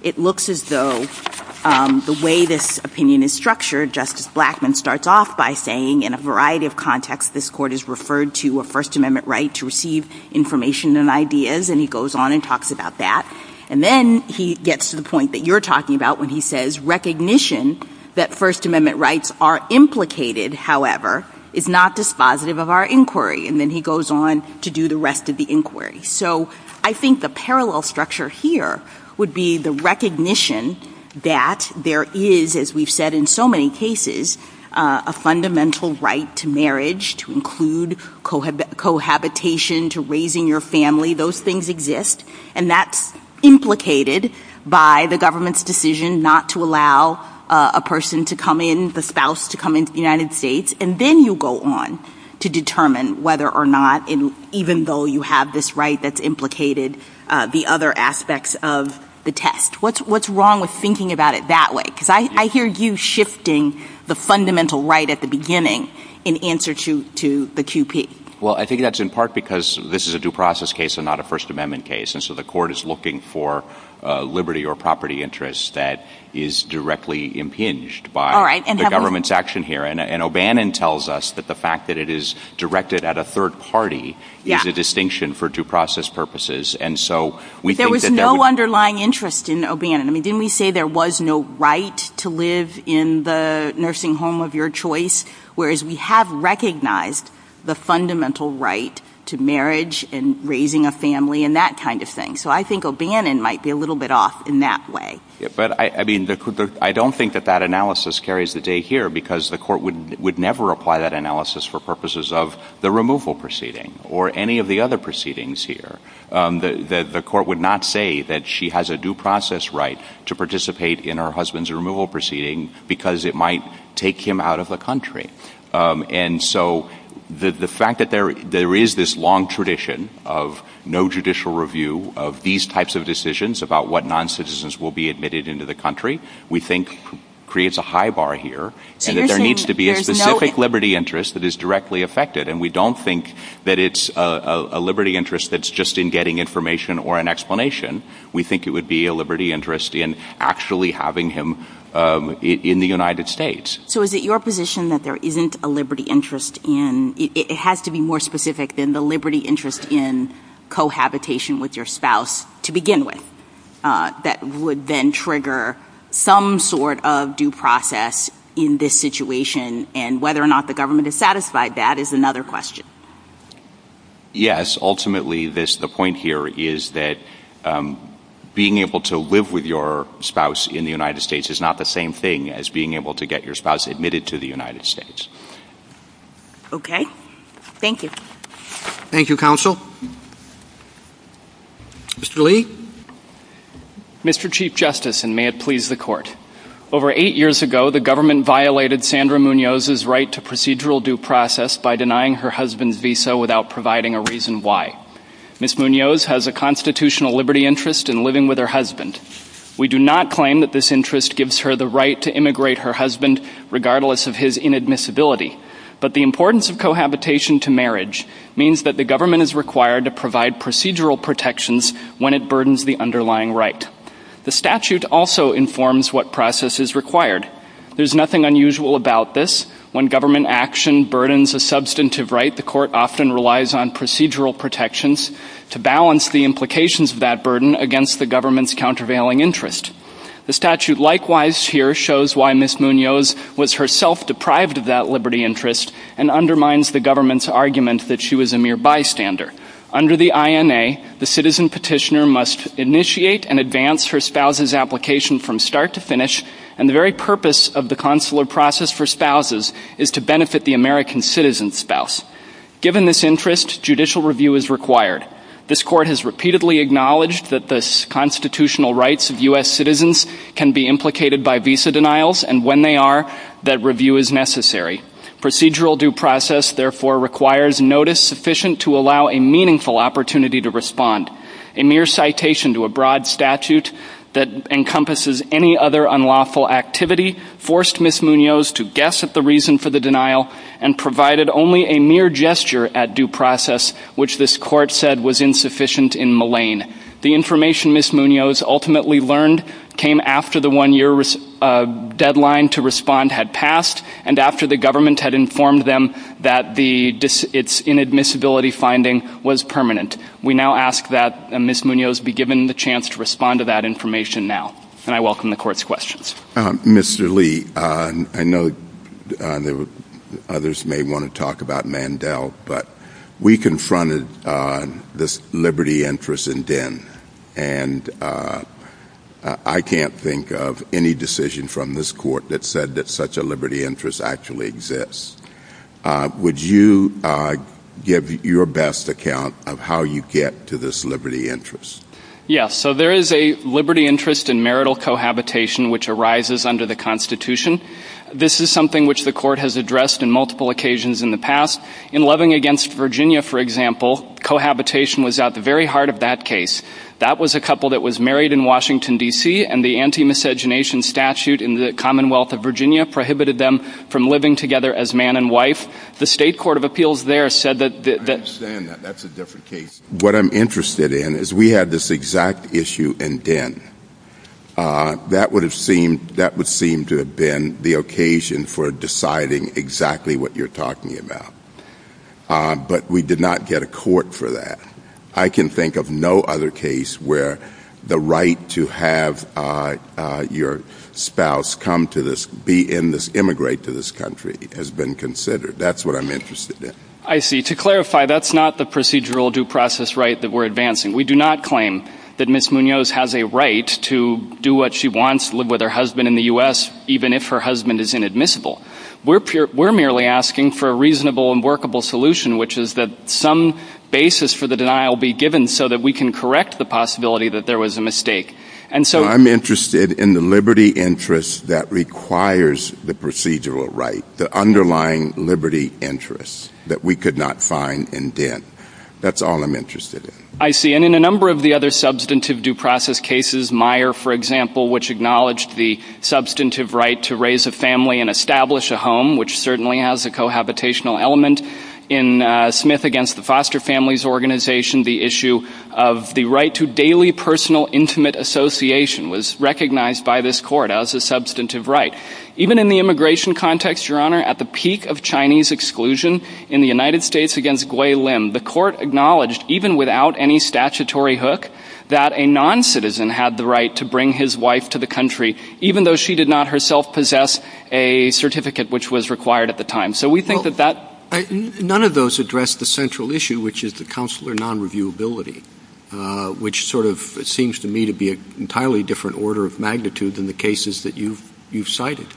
It looks as though the way this opinion is structured, Justice Blackmun starts off by saying, in a variety of contexts, this court is referred to a First Amendment right to receive information and ideas, and he goes on and talks about that. And then he gets to the point that you're talking about when he says, recognition that First Amendment rights are implicated, however, is not dispositive of our inquiry. And then he goes on to do the rest of the inquiry. So I think the parallel structure here would be the recognition that there is, as we've said in so many cases, a fundamental right to marriage, to include cohabitation, to raising your family, those things exist. And that's implicated by the government's decision not to allow a person to come in, the spouse to come into the United States, and then you go on to determine whether or not, even though you have this right, that's implicated the other aspects of the test. What's wrong with thinking about it that way? Because I hear you shifting the fundamental right at the beginning in answer to the QP. Well, I think that's in part because this is a due process case and not a First Amendment case. And so the court is looking for liberty or property interests that is directly impinged by the government's action here. And O'Bannon tells us that the fact that it is directed at a third party is a distinction for due process purposes. There was no underlying interest in O'Bannon. Didn't we say there was no right to live in the nursing home of your choice? Whereas we have recognized the fundamental right to marriage and raising a family and that kind of thing. So I think O'Bannon might be a little bit off in that way. But I don't think that that analysis carries the day here because the court would never apply that analysis for purposes of the removal proceeding or any of the other proceedings here. The court would not say that she has a due process right to participate in her husband's removal proceeding because it might take him out of the country. And so the fact that there is this long tradition of no judicial review of these types of decisions about what noncitizens will be admitted into the country we think creates a high bar here. And that there needs to be a specific liberty interest that is directly affected. And we don't think that it's a liberty interest that's just in getting information or an explanation. We think it would be a liberty interest in actually having him in the United States. So is it your position that there isn't a liberty interest in it has to be more specific than the liberty interest in cohabitation with your spouse to begin with that would then trigger some sort of due process in this situation and whether or not the government is satisfied that is another question. Yes, ultimately the point here is that being able to live with your spouse in the United States is not the same thing as being able to get your spouse admitted to the United States. Okay. Thank you. Thank you, counsel. Mr. Lee. Mr. Chief Justice, and may it please the court, over eight years ago the government violated Sandra Munoz's right to procedural due process by denying her husband's visa without providing a reason why. Ms. Munoz has a constitutional liberty interest in living with her husband. We do not claim that this interest gives her the right to immigrate her husband regardless of his inadmissibility. But the importance of cohabitation to marriage means that the government is required to provide procedural protections when it burdens the underlying right. The statute also informs what process is required. There's nothing unusual about this. When government action burdens a substantive right, the court often relies on procedural protections to balance the implications of that burden against the government's countervailing interest. The statute likewise here shows why Ms. Munoz was herself deprived of that liberty interest and undermines the government's argument that she was a mere bystander. Under the INA, the citizen petitioner must initiate and advance her spouse's application from start to finish, and the very purpose of the consular process for spouses is to benefit the American citizen's spouse. Given this interest, judicial review is required. This court has repeatedly acknowledged that the constitutional rights of U.S. citizens can be implicated by visa denials, and when they are, that review is necessary. Procedural due process, therefore, requires notice sufficient to allow a meaningful opportunity to respond. A mere citation to a broad statute that encompasses any other unlawful activity forced Ms. Munoz to guess at the reason for the denial and provided only a mere gesture at due process, which this court said was insufficient in Malign. The information Ms. Munoz ultimately learned came after the one-year deadline to respond had passed and after the government had informed them that its inadmissibility finding was permanent. We now ask that Ms. Munoz be given the chance to respond to that information now, and I welcome the court's questions. Mr. Lee, I know others may want to talk about Mandel, but we confronted this liberty interest in Din, and I can't think of any decision from this court that said that such a liberty interest actually exists. Would you give your best account of how you get to this liberty interest? Yes, so there is a liberty interest in marital cohabitation which arises under the Constitution. This is something which the court has addressed on multiple occasions in the past. In Loving Against Virginia, for example, cohabitation was at the very heart of that case. That was a couple that was married in Washington, D.C., and the anti-miscegenation statute in the Commonwealth of Virginia prohibited them from living together as man and wife. The state court of appeals there said that... I understand that. That's a different case. What I'm interested in is we had this exact issue in Din. That would seem to have been the occasion for deciding exactly what you're talking about, but we did not get a court for that. I can think of no other case where the right to have your spouse immigrate to this country has been considered. That's what I'm interested in. I see. To clarify, that's not the procedural due process right that we're advancing. We do not claim that Ms. Munoz has a right to do what she wants, live with her husband in the U.S., even if her husband is inadmissible. We're merely asking for a reasonable and workable solution, which is that some basis for the denial be given so that we can correct the possibility that there was a mistake. I'm interested in the liberty interest that requires the procedural right, the underlying liberty interest that we could not find in Din. That's all I'm interested in. I see. And in a number of the other substantive due process cases, Meyer, for example, which acknowledged the substantive right to raise a family and establish a home, which certainly has a cohabitational element. In Smith v. The Foster Families Organization, the issue of the right to daily personal intimate association was recognized by this court as a substantive right. Even in the immigration context, Your Honor, at the peak of Chinese exclusion in the United States v. Gwai Lim, the court acknowledged, even without any statutory hook, that a non-citizen had the right to bring his wife to the country, even though she did not herself possess a certificate which was required at the time. So we think that that... None of those address the central issue, which is the consular non-reviewability, which sort of seems to me to be an entirely different order of magnitude than the cases that you cited.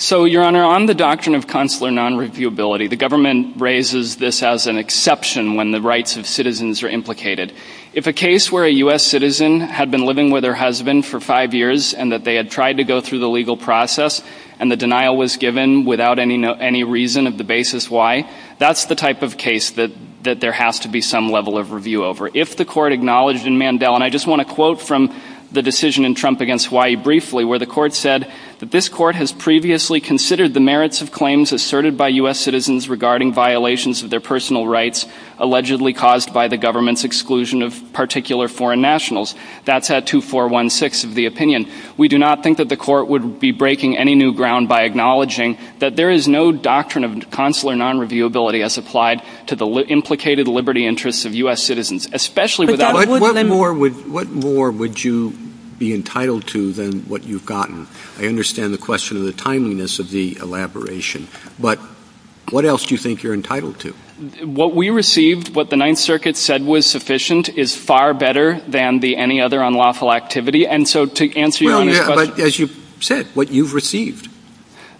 So, Your Honor, on the doctrine of consular non-reviewability, the government raises this as an exception when the rights of citizens are implicated. If a case where a U.S. citizen had been living with her husband for five years and that they had tried to go through the legal process and the denial was given without any reason of the basis why, that's the type of case that there has to be some level of review over. If the court acknowledged in Mandel, and I just want to quote from the decision in Trump v. Hawaii briefly, where the court said that this court has previously considered the merits of claims asserted by U.S. citizens regarding violations of their personal rights allegedly caused by the government's exclusion of particular foreign nationals, that's at 2416 of the opinion. We do not think that the court would be breaking any new ground by acknowledging that there is no doctrine of consular non-reviewability as applied to the implicated liberty interests of U.S. citizens, especially without... What more would you be entitled to than what you've gotten? I understand the question of the timeliness of the elaboration, but what else do you think you're entitled to? What we received, what the Ninth Circuit said was sufficient, is far better than any other unlawful activity, and so to answer your question... As you've said, what you've received.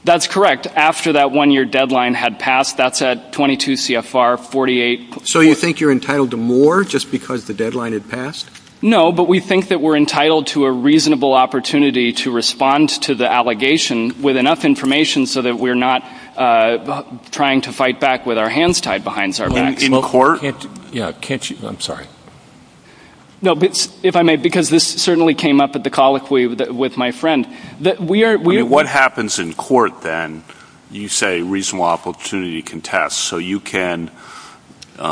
That's correct. After that one-year deadline had passed, that's at 22 CFR 48... So you think you're entitled to more just because the deadline had passed? No, but we think that we're entitled to a reasonable opportunity to respond to the allegation with enough information so that we're not trying to fight back with our hands tied behind our back. In court? Yeah, can't you... I'm sorry. No, if I may, because this certainly came up at the call with my friend. What happens in court then? You say reasonable opportunity contests, so you can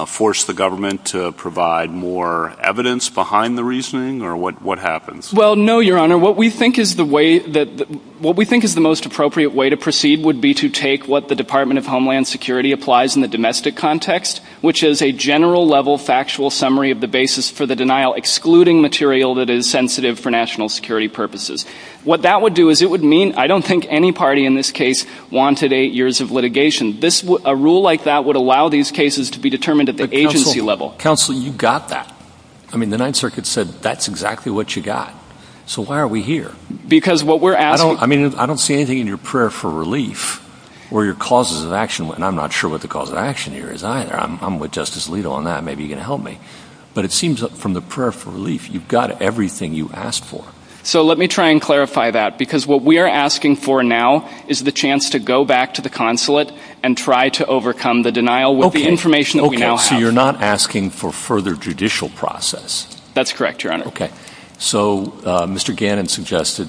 force the government to provide more evidence behind the reasoning, or what happens? Well, no, Your Honor. What we think is the most appropriate way to proceed would be to take what the Department of Homeland Security applies in the domestic context, which is a general-level factual summary of the basis for the denial, excluding material that is sensitive for national security purposes. What that would do is it would mean... I don't think any party in this case wanted eight years of litigation. A rule like that would allow these cases to be determined at the agency level. Counsel, you've got that. I mean, the Ninth Circuit said that's exactly what you've got. So why are we here? Because what we're asking... I don't see anything in your prayer for relief or your causes of action, and I'm not sure what the cause of action here is either. I'm with Justice Alito on that. Maybe you can help me. But it seems from the prayer for relief, you've got everything you asked for. So let me try and clarify that, because what we are asking for now is the chance to go back to the consulate and try to overcome the denial with the information that we now have. So you're not asking for further judicial process? That's correct, Your Honor. Okay. So Mr. Gannon suggested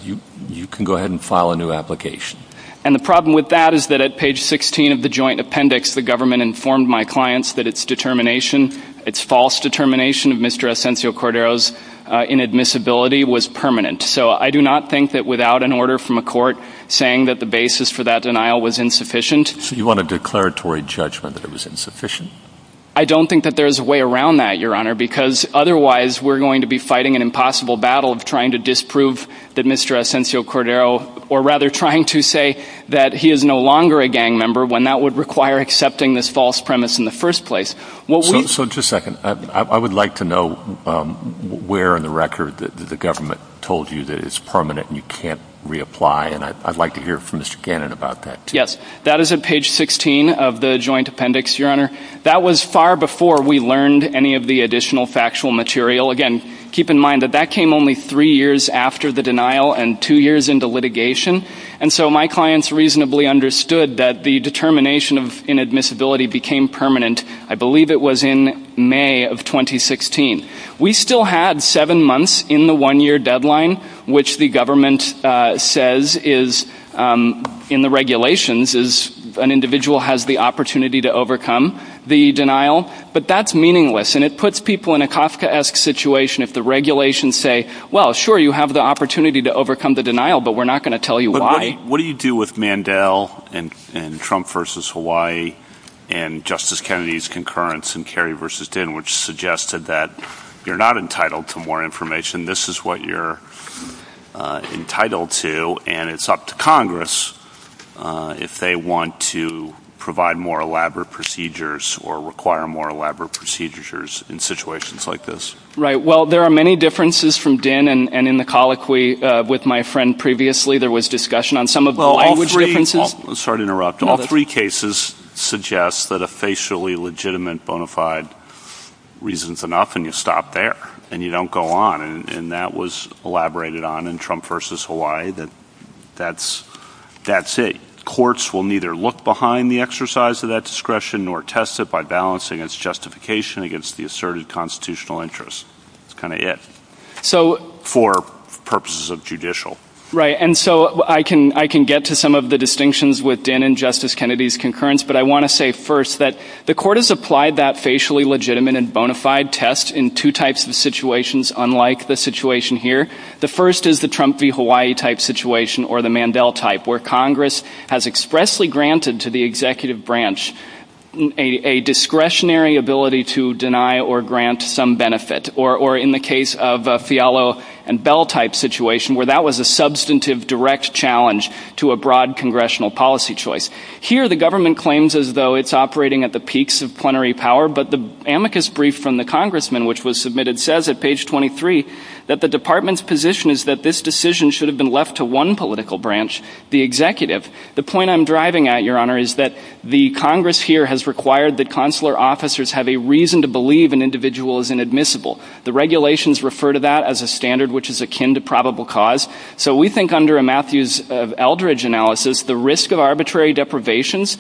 you can go ahead and file a new application. And the problem with that is that at page 16 of the joint appendix, the government informed my clients that its determination, its false determination of Mr. Asensio Cordero's inadmissibility was permanent. So I do not think that without an order from a court saying that the basis for that denial was insufficient... So you want a declaratory judgment that it was insufficient? I don't think that there's a way around that, Your Honor, because otherwise we're going to be fighting an impossible battle of trying to disprove that Mr. Asensio Cordero, or rather trying to say that he is no longer a gang member, when that would require accepting this false premise in the first place. So just a second. I would like to know where in the record the government told you that it's permanent and you can't reapply, and I'd like to hear from Mr. Gannon about that. Yes, that is at page 16 of the joint appendix, Your Honor. That was far before we learned any of the additional factual material. Again, keep in mind that that came only three years after the denial and two years into litigation. And so my clients reasonably understood that the determination of inadmissibility became permanent. I believe it was in May of 2016. We still had seven months in the one-year deadline, which the government says in the regulations is an individual has the opportunity to overcome the denial. But that's meaningless, and it puts people in a Kafkaesque situation if the regulations say, well, sure, you have the opportunity to overcome the denial, but we're not going to tell you why. What do you do with Mandel and Trump v. Hawaii and Justice Kennedy's concurrence in Kerry v. Dinn, which suggested that you're not entitled to more information, this is what you're entitled to, and it's up to Congress if they want to provide more elaborate procedures or require more elaborate procedures in situations like this. Right. Well, there are many differences from Dinn, and in the colloquy with my friend previously there was discussion on some of the language differences. All three cases suggest that a facially legitimate bona fide reason is enough, and you stop there, and you don't go on. And that was elaborated on in Trump v. Hawaii that that's it. Courts will neither look behind the exercise of that discretion nor test it by balancing its justification against the asserted constitutional interest. That's kind of it for purposes of judicial. Right, and so I can get to some of the distinctions with Dinn and Justice Kennedy's concurrence, but I want to say first that the court has applied that facially legitimate and bona fide test in two types of situations unlike the situation here. The first is the Trump v. Hawaii type situation or the Mandel type where Congress has expressly granted to the executive branch a discretionary ability to deny or grant some benefit, or in the case of Fialo and Bell type situation where that was a substantive direct challenge to a broad congressional policy choice. Here the government claims as though it's operating at the peaks of plenary power, but the amicus brief from the congressman which was submitted says at page 23 that the department's position is that this decision should have been left to one political branch, the executive. The point I'm driving at, Your Honor, is that the Congress here has required that consular officers have a reason to believe an individual is inadmissible. The regulations refer to that as a standard which is akin to probable cause. So we think under a Matthews-Eldridge analysis, the risk of arbitrary deprivations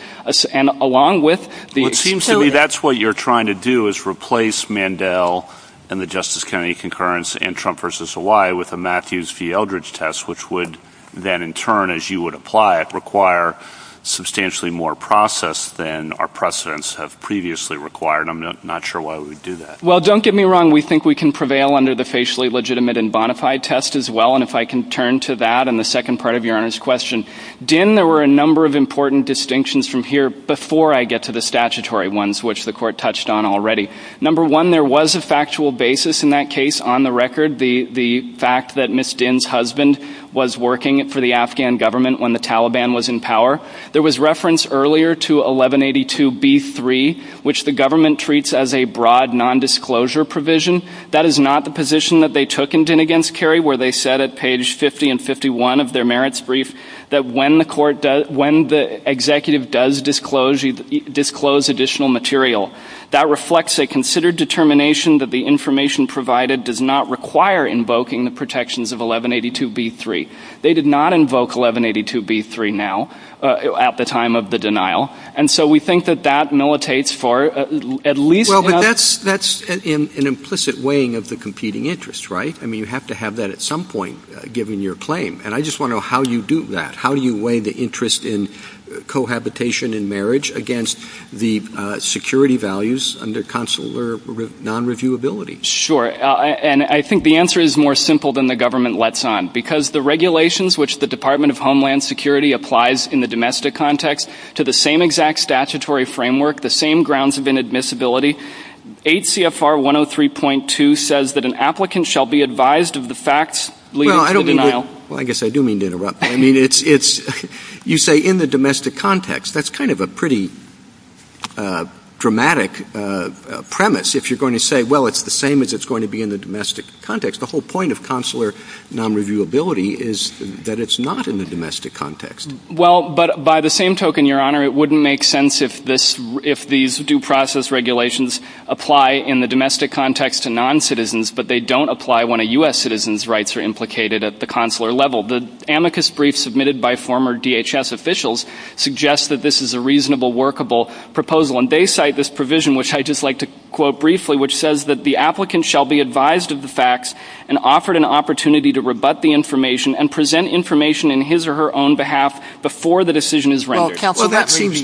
along with the- Well, it seems to me that's what you're trying to do is replace Mandel and the Justice Kennedy concurrence and Trump v. Hawaii with a Matthews v. Eldridge test which would then in turn, as you would apply it, require substantially more process than our precedents have previously required. I'm not sure why we would do that. Well, don't get me wrong. We think we can prevail under the Facially Legitimate and Bonafide test as well. And if I can turn to that and the second part of Your Honor's question. Din, there were a number of important distinctions from here before I get to the statutory ones which the court touched on already. Number one, there was a factual basis in that case on the record. The fact that Ms. Din's husband was working for the Afghan government when the Taliban was in power. There was reference earlier to 1182B3 which the government treats as a broad nondisclosure provision. That is not the position that they took in Din v. Kerry where they said at page 50 and 51 of their merits brief that when the executive does disclose additional material, that reflects a considered determination that the information provided does not require invoking the protections of 1182B3. They did not invoke 1182B3 now at the time of the denial. And so we think that that militates for at least... Well, but that's an implicit weighing of the competing interests, right? I mean, you have to have that at some point given your claim. And I just want to know how you do that. How do you weigh the interest in cohabitation and marriage against the security values under consular non-reviewability? Sure, and I think the answer is more simple than the government lets on. Because the regulations which the Department of Homeland Security applies in the domestic context to the same exact statutory framework, the same grounds of inadmissibility, 8 CFR 103.2 says that an applicant shall be advised of the facts leading to denial. Well, I guess I do mean to interrupt. I mean, you say in the domestic context. That's kind of a pretty dramatic premise. If you're going to say, well, it's the same as it's going to be in the domestic context. The whole point of consular non-reviewability is that it's not in the domestic context. Well, but by the same token, Your Honor, it wouldn't make sense if these due process regulations apply in the domestic context to non-citizens, but they don't apply when a U.S. citizen's rights are implicated at the consular level. The amicus brief submitted by former DHS officials suggests that this is a reasonable, workable proposal. And they cite this provision, which I'd just like to quote briefly, which says that the applicant shall be advised of the facts and offered an opportunity to rebut the information and present information in his or her own behalf before the decision is rendered. Well, that seems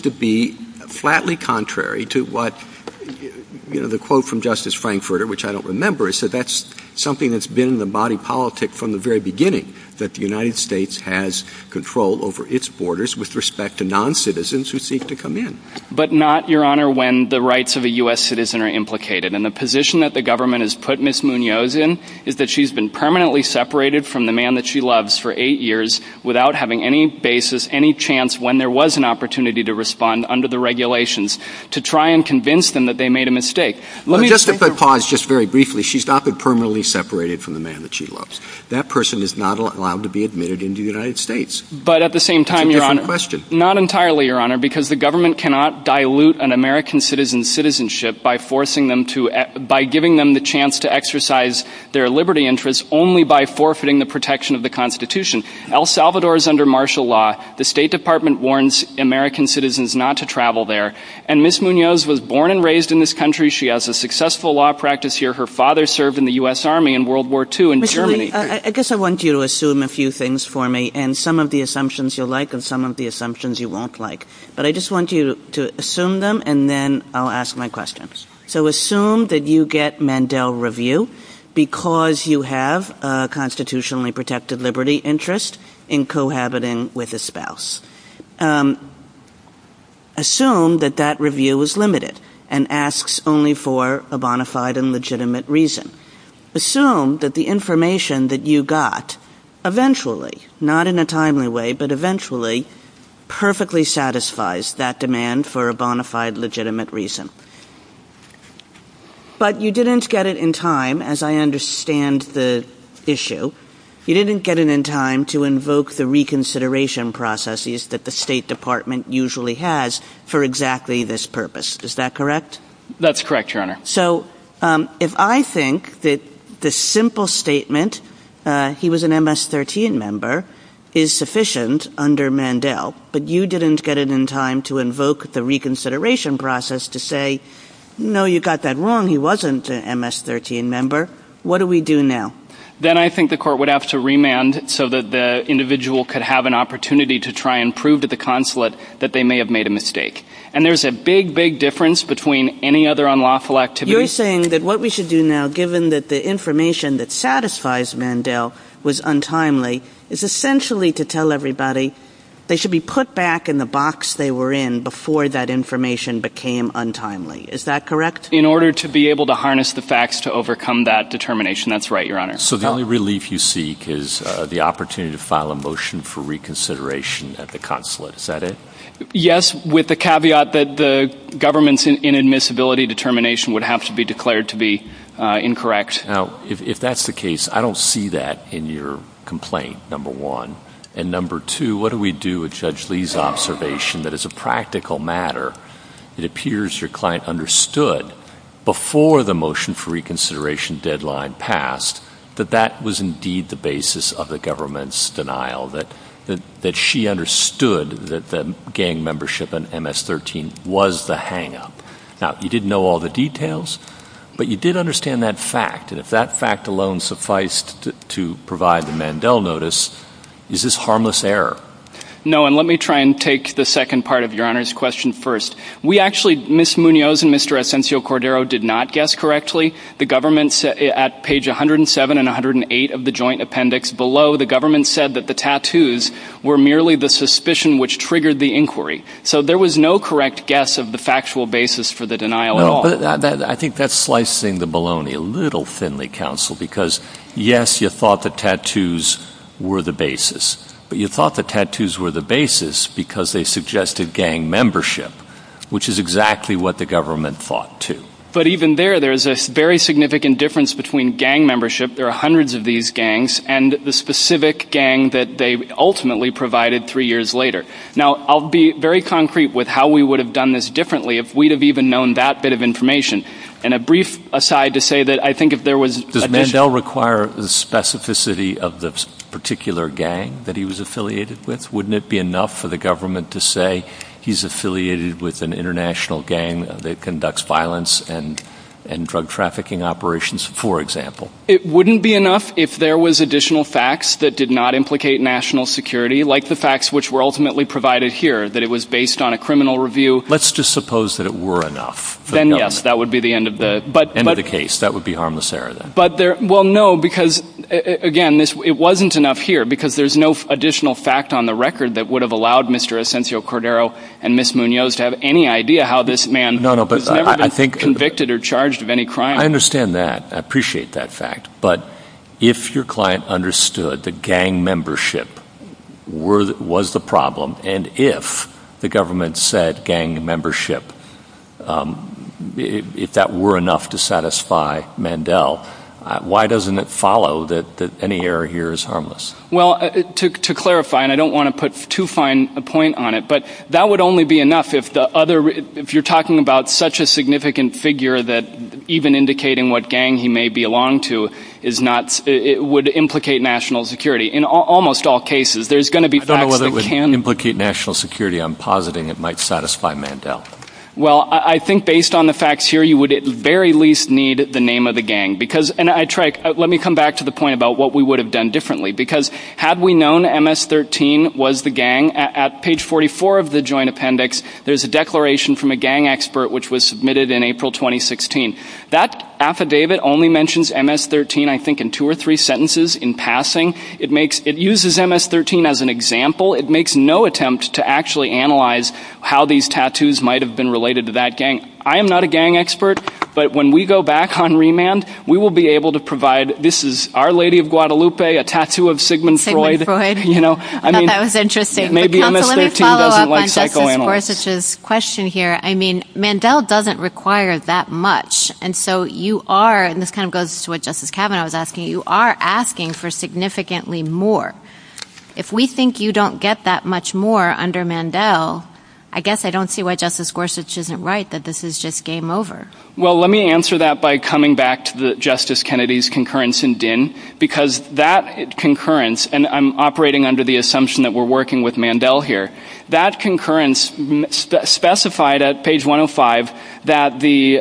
to be flatly contrary to what, you know, the quote from Justice Frankfurter, which I don't remember. So that's something that's been in the body politic from the very beginning, that the United States has control over its borders with respect to non-citizens who seek to come in. But not, Your Honor, when the rights of a U.S. citizen are implicated. And the position that the government has put Ms. Munoz in is that she's been permanently separated from the man that she loves for eight years without having any basis, any chance, when there was an opportunity to respond under the regulations, to try and convince them that they made a mistake. Just to pause just very briefly, she's not been permanently separated from the man that she loves. That person is not allowed to be admitted into the United States. But at the same time, Your Honor, not entirely, Your Honor, because the government cannot dilute an American citizen's citizenship by giving them the chance to exercise their liberty interests only by forfeiting the protection of the Constitution. El Salvador is under martial law. The State Department warns American citizens not to travel there. And Ms. Munoz was born and raised in this country. She has a successful law practice here. Her father served in the U.S. Army in World War II in Germany. Mr. Levy, I guess I want you to assume a few things for me, and some of the assumptions you'll like and some of the assumptions you won't like. But I just want you to assume them, and then I'll ask my questions. So assume that you get Mandel review because you have a constitutionally protected liberty interest in cohabiting with a spouse. Assume that that review is limited and asks only for a bona fide and legitimate reason. Assume that the information that you got eventually, not in a timely way, but eventually, perfectly satisfies that demand for a bona fide legitimate reason. But you didn't get it in time, as I understand the issue. You didn't get it in time to invoke the reconsideration processes that the State Department usually has for exactly this purpose. Is that correct? That's correct, Your Honor. So if I think that the simple statement, he was an MS-13 member, is sufficient under Mandel, but you didn't get it in time to invoke the reconsideration process to say, no, you got that wrong, he wasn't an MS-13 member, what do we do now? Then I think the court would have to remand so that the individual could have an opportunity to try and prove to the consulate that they may have made a mistake. And there's a big, big difference between any other unlawful activity. You're saying that what we should do now, given that the information that satisfies Mandel was untimely, is essentially to tell everybody they should be put back in the box they were in before that information became untimely. Is that correct? In order to be able to harness the facts to overcome that determination. That's right, Your Honor. So the only relief you seek is the opportunity to file a motion for reconsideration at the consulate. Is that it? Yes, with the caveat that the government's inadmissibility determination would have to be declared to be incorrect. Now, if that's the case, I don't see that in your complaint, number one. And number two, what do we do with Judge Lee's observation that as a practical matter, it appears your client understood before the motion for reconsideration deadline passed that that was indeed the basis of the government's denial, that she understood that gang membership in MS-13 was the hang-up? Now, you didn't know all the details, but you did understand that fact. And if that fact alone sufficed to provide the Mandel notice, is this harmless error? No, and let me try and take the second part of Your Honor's question first. We actually, Ms. Munoz and Mr. Asensio-Cordero did not guess correctly. The government, at page 107 and 108 of the joint appendix below, the government said that the tattoos were merely the suspicion which triggered the inquiry. So there was no correct guess of the factual basis for the denial at all. I think that's slicing the baloney a little, Finley Counsel, because yes, you thought the tattoos were the basis, but you thought the tattoos were the basis because they suggested gang membership, which is exactly what the government thought too. But even there, there's a very significant difference between gang membership, there are hundreds of these gangs, and the specific gang that they ultimately provided three years later. Now, I'll be very concrete with how we would have done this differently if we'd have even known that bit of information. And a brief aside to say that I think if there was a- Does Mandel require the specificity of the particular gang that he was affiliated with? Wouldn't it be enough for the government to say he's affiliated with an international gang that conducts violence and drug trafficking operations, for example? It wouldn't be enough if there was additional facts that did not implicate national security, like the facts which were ultimately provided here, that it was based on a criminal review. Let's just suppose that it were enough. Then yes, that would be the end of the- End of the case, that would be harmless error then. Well, no, because again, it wasn't enough here, because there's no additional fact on the record that would have allowed Mr. Asencio Cordero and Ms. Munoz to have any idea how this man has never been convicted or charged of any crime. I understand that. I appreciate that fact. But if your client understood that gang membership was the problem, and if the government said gang membership, if that were enough to satisfy Mandel, why doesn't it follow that any error here is harmless? Well, to clarify, and I don't want to put too fine a point on it, but that would only be enough if the other- Indicating what gang he may belong to would implicate national security. In almost all cases, there's going to be- I don't know whether it would implicate national security. I'm positing it might satisfy Mandel. Well, I think based on the facts here, you would at the very least need the name of the gang. Let me come back to the point about what we would have done differently, because had we known MS-13 was the gang, at page 44 of the joint appendix, there's a declaration from a gang expert which was submitted in April 2016. That affidavit only mentions MS-13, I think, in two or three sentences in passing. It uses MS-13 as an example. It makes no attempt to actually analyze how these tattoos might have been related to that gang. I am not a gang expert, but when we go back on remand, we will be able to provide, this is Our Lady of Guadalupe, a tattoo of Sigmund Freud. I thought that was interesting. Maybe MS-13 doesn't like psychoanalysts. Going back to Justice Gorsuch's question here, I mean, Mandel doesn't require that much, and so you are, and this kind of goes to what Justice Kavanaugh was asking, you are asking for significantly more. If we think you don't get that much more under Mandel, I guess I don't see why Justice Gorsuch isn't right, that this is just game over. Well, let me answer that by coming back to Justice Kennedy's concurrence in Dinn, because that concurrence, and I'm operating under the assumption that we're working with Mandel here, that concurrence specified at page 105 that the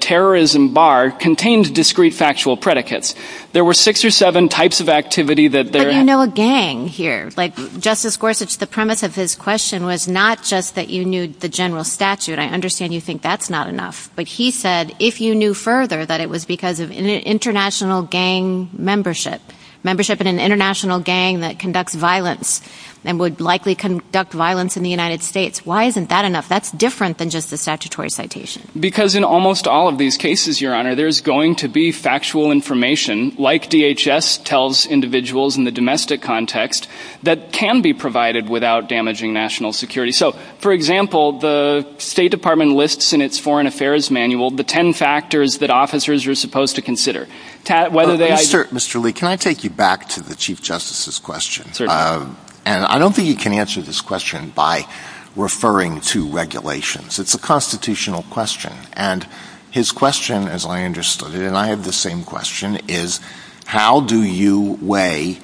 terrorism bar contains discrete factual predicates. There were six or seven types of activity that there... But you know a gang here. Justice Gorsuch, the premise of his question was not just that you knew the general statute. I understand you think that's not enough. But he said, if you knew further, that it was because of international gang membership, membership in an international gang that conducts violence, and would likely conduct violence in the United States. Why isn't that enough? That's different than just the statutory citation. Because in almost all of these cases, Your Honor, there's going to be factual information, like DHS tells individuals in the domestic context, that can be provided without damaging national security. So, for example, the State Department lists in its foreign affairs manual the ten factors that officers are supposed to consider. Mr. Lee, can I take you back to the Chief Justice's question? And I don't think you can answer this question by referring to regulations. It's a constitutional question. And his question, as I understood it, and I had the same question, is how do you weigh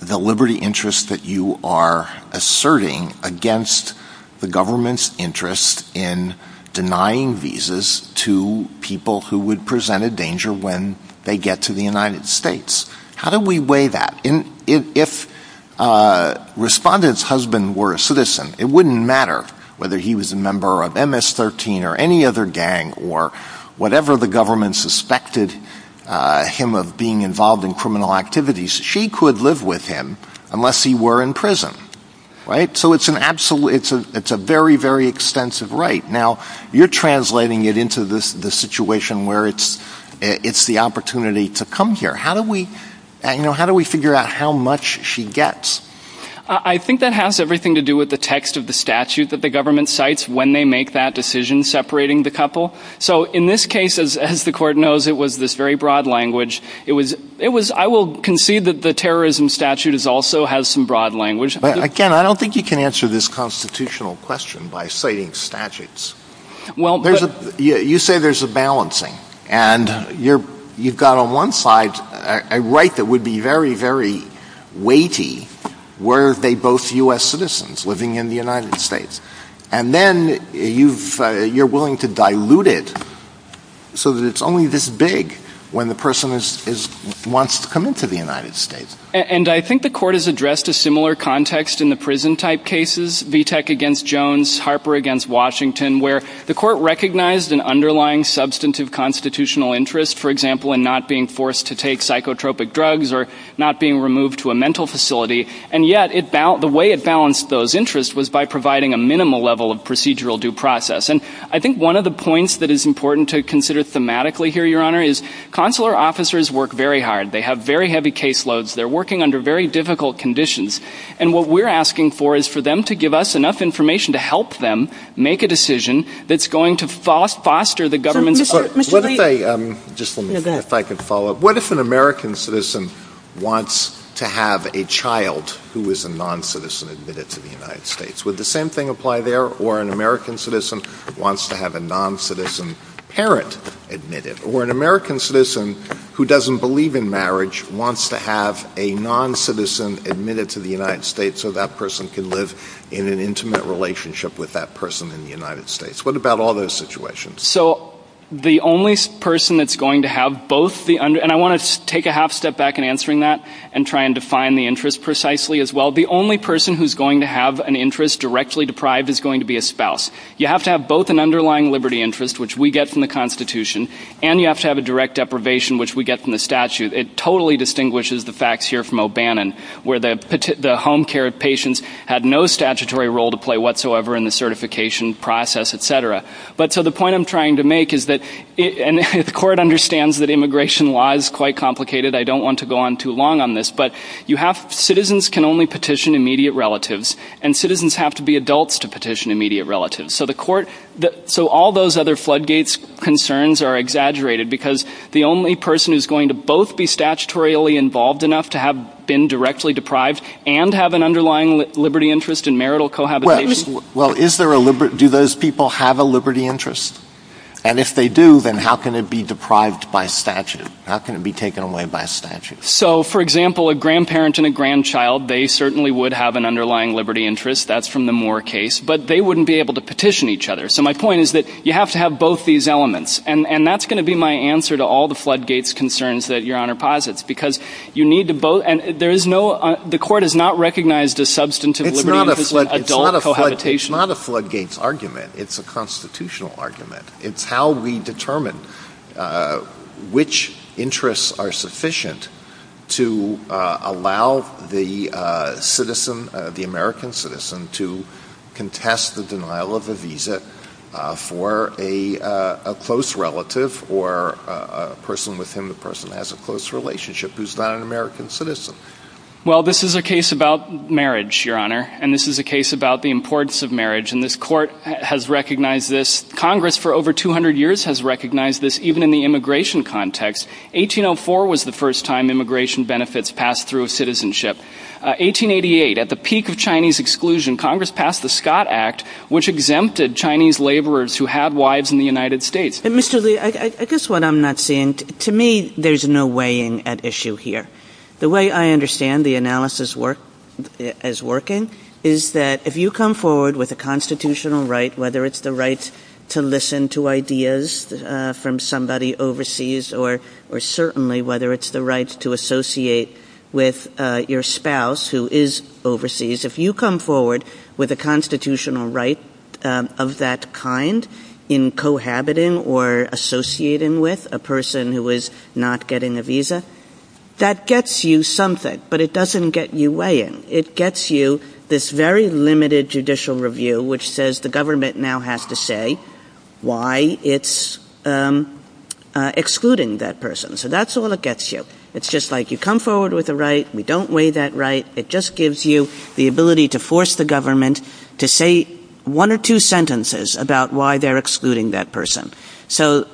the liberty interest that you are asserting against the government's interest in denying visas to people who would present a danger when they get to the United States? How do we weigh that? If Respondent's husband were a citizen, it wouldn't matter whether he was a member of MS-13 or any other gang, or whatever the government suspected him of being involved in criminal activities. She could live with him unless he were in prison. So it's a very, very extensive right. Now, you're translating it into the situation where it's the opportunity to come here. How do we figure out how much she gets? I think that has everything to do with the text of the statute that the government cites when they make that decision separating the couple. So in this case, as the Court knows, it was this very broad language. I will concede that the terrorism statute also has some broad language. Again, I don't think you can answer this constitutional question by citing statutes. You say there's a balancing. And you've got on one side a right that would be very, very weighty were they both U.S. citizens living in the United States. And then you're willing to dilute it so that it's only this big when the person wants to come into the United States. And I think the Court has addressed a similar context in the prison-type cases, VTEC against Jones, Harper against Washington, where the Court recognized an underlying substantive constitutional interest, for example, in not being forced to take psychotropic drugs or not being removed to a mental facility. And yet the way it balanced those interests was by providing a minimal level of procedural due process. And I think one of the points that is important to consider thematically here, Your Honor, is consular officers work very hard. They have very heavy caseloads. They're working under very difficult conditions. And what we're asking for is for them to give us enough information to help them make a decision that's going to foster the government's support. What if an American citizen wants to have a child who is a non-citizen admitted to the United States? Would the same thing apply there? Or an American citizen wants to have a non-citizen parent admitted? Or an American citizen who doesn't believe in marriage wants to have a non-citizen admitted to the United States so that person can live in an intimate relationship with that person in the United States? What about all those situations? So the only person that's going to have both the—and I want to take a half-step back in answering that and try and define the interest precisely as well. The only person who's going to have an interest directly deprived is going to be a spouse. You have to have both an underlying liberty interest, which we get from the Constitution, and you have to have a direct deprivation, which we get from the statute. It totally distinguishes the facts here from O'Bannon, where the home care patients had no statutory role to play whatsoever in the certification process, etc. So the point I'm trying to make is that—and the court understands that immigration law is quite complicated. I don't want to go on too long on this. But citizens can only petition immediate relatives, and citizens have to be adults to petition immediate relatives. So all those other floodgates concerns are exaggerated because the only person who's going to both be statutorily involved enough to have been directly deprived and have an underlying liberty interest in marital cohabitation— Well, do those people have a liberty interest? And if they do, then how can it be deprived by statute? How can it be taken away by statute? So, for example, a grandparent and a grandchild, they certainly would have an underlying liberty interest. That's from the Moore case. But they wouldn't be able to petition each other. So my point is that you have to have both these elements. And that's going to be my answer to all the floodgates concerns that Your Honor posits. Because you need to both—and there is no—the court has not recognized a substantive liberty interest in adult cohabitation. It's not a floodgates argument. It's a constitutional argument. It's how we determine which interests are sufficient to allow the American citizen to contest the denial of the visa for a close relative or a person with whom the person has a close relationship who's not an American citizen. Well, this is a case about marriage, Your Honor. And this is a case about the importance of marriage. And this court has recognized this. Congress for over 200 years has recognized this, even in the immigration context. 1804 was the first time immigration benefits passed through a citizenship. 1888, at the peak of Chinese exclusion, Congress passed the Scott Act, which exempted Chinese laborers who had wives in the United States. But, Mr. Lee, I guess what I'm not seeing—to me, there's no weighing at issue here. The way I understand the analysis as working is that if you come forward with a constitutional right, whether it's the right to listen to ideas from somebody overseas, or certainly whether it's the right to associate with your spouse who is overseas, if you come forward with a constitutional right of that kind in cohabiting or associating with a person who is not getting a visa, that gets you something, but it doesn't get you weighing. It gets you this very limited judicial review which says the government now has to say why it's excluding that person. So that's all it gets you. It's just like you come forward with a right, we don't weigh that right. It just gives you the ability to force the government to say one or two sentences about why they're excluding that person. So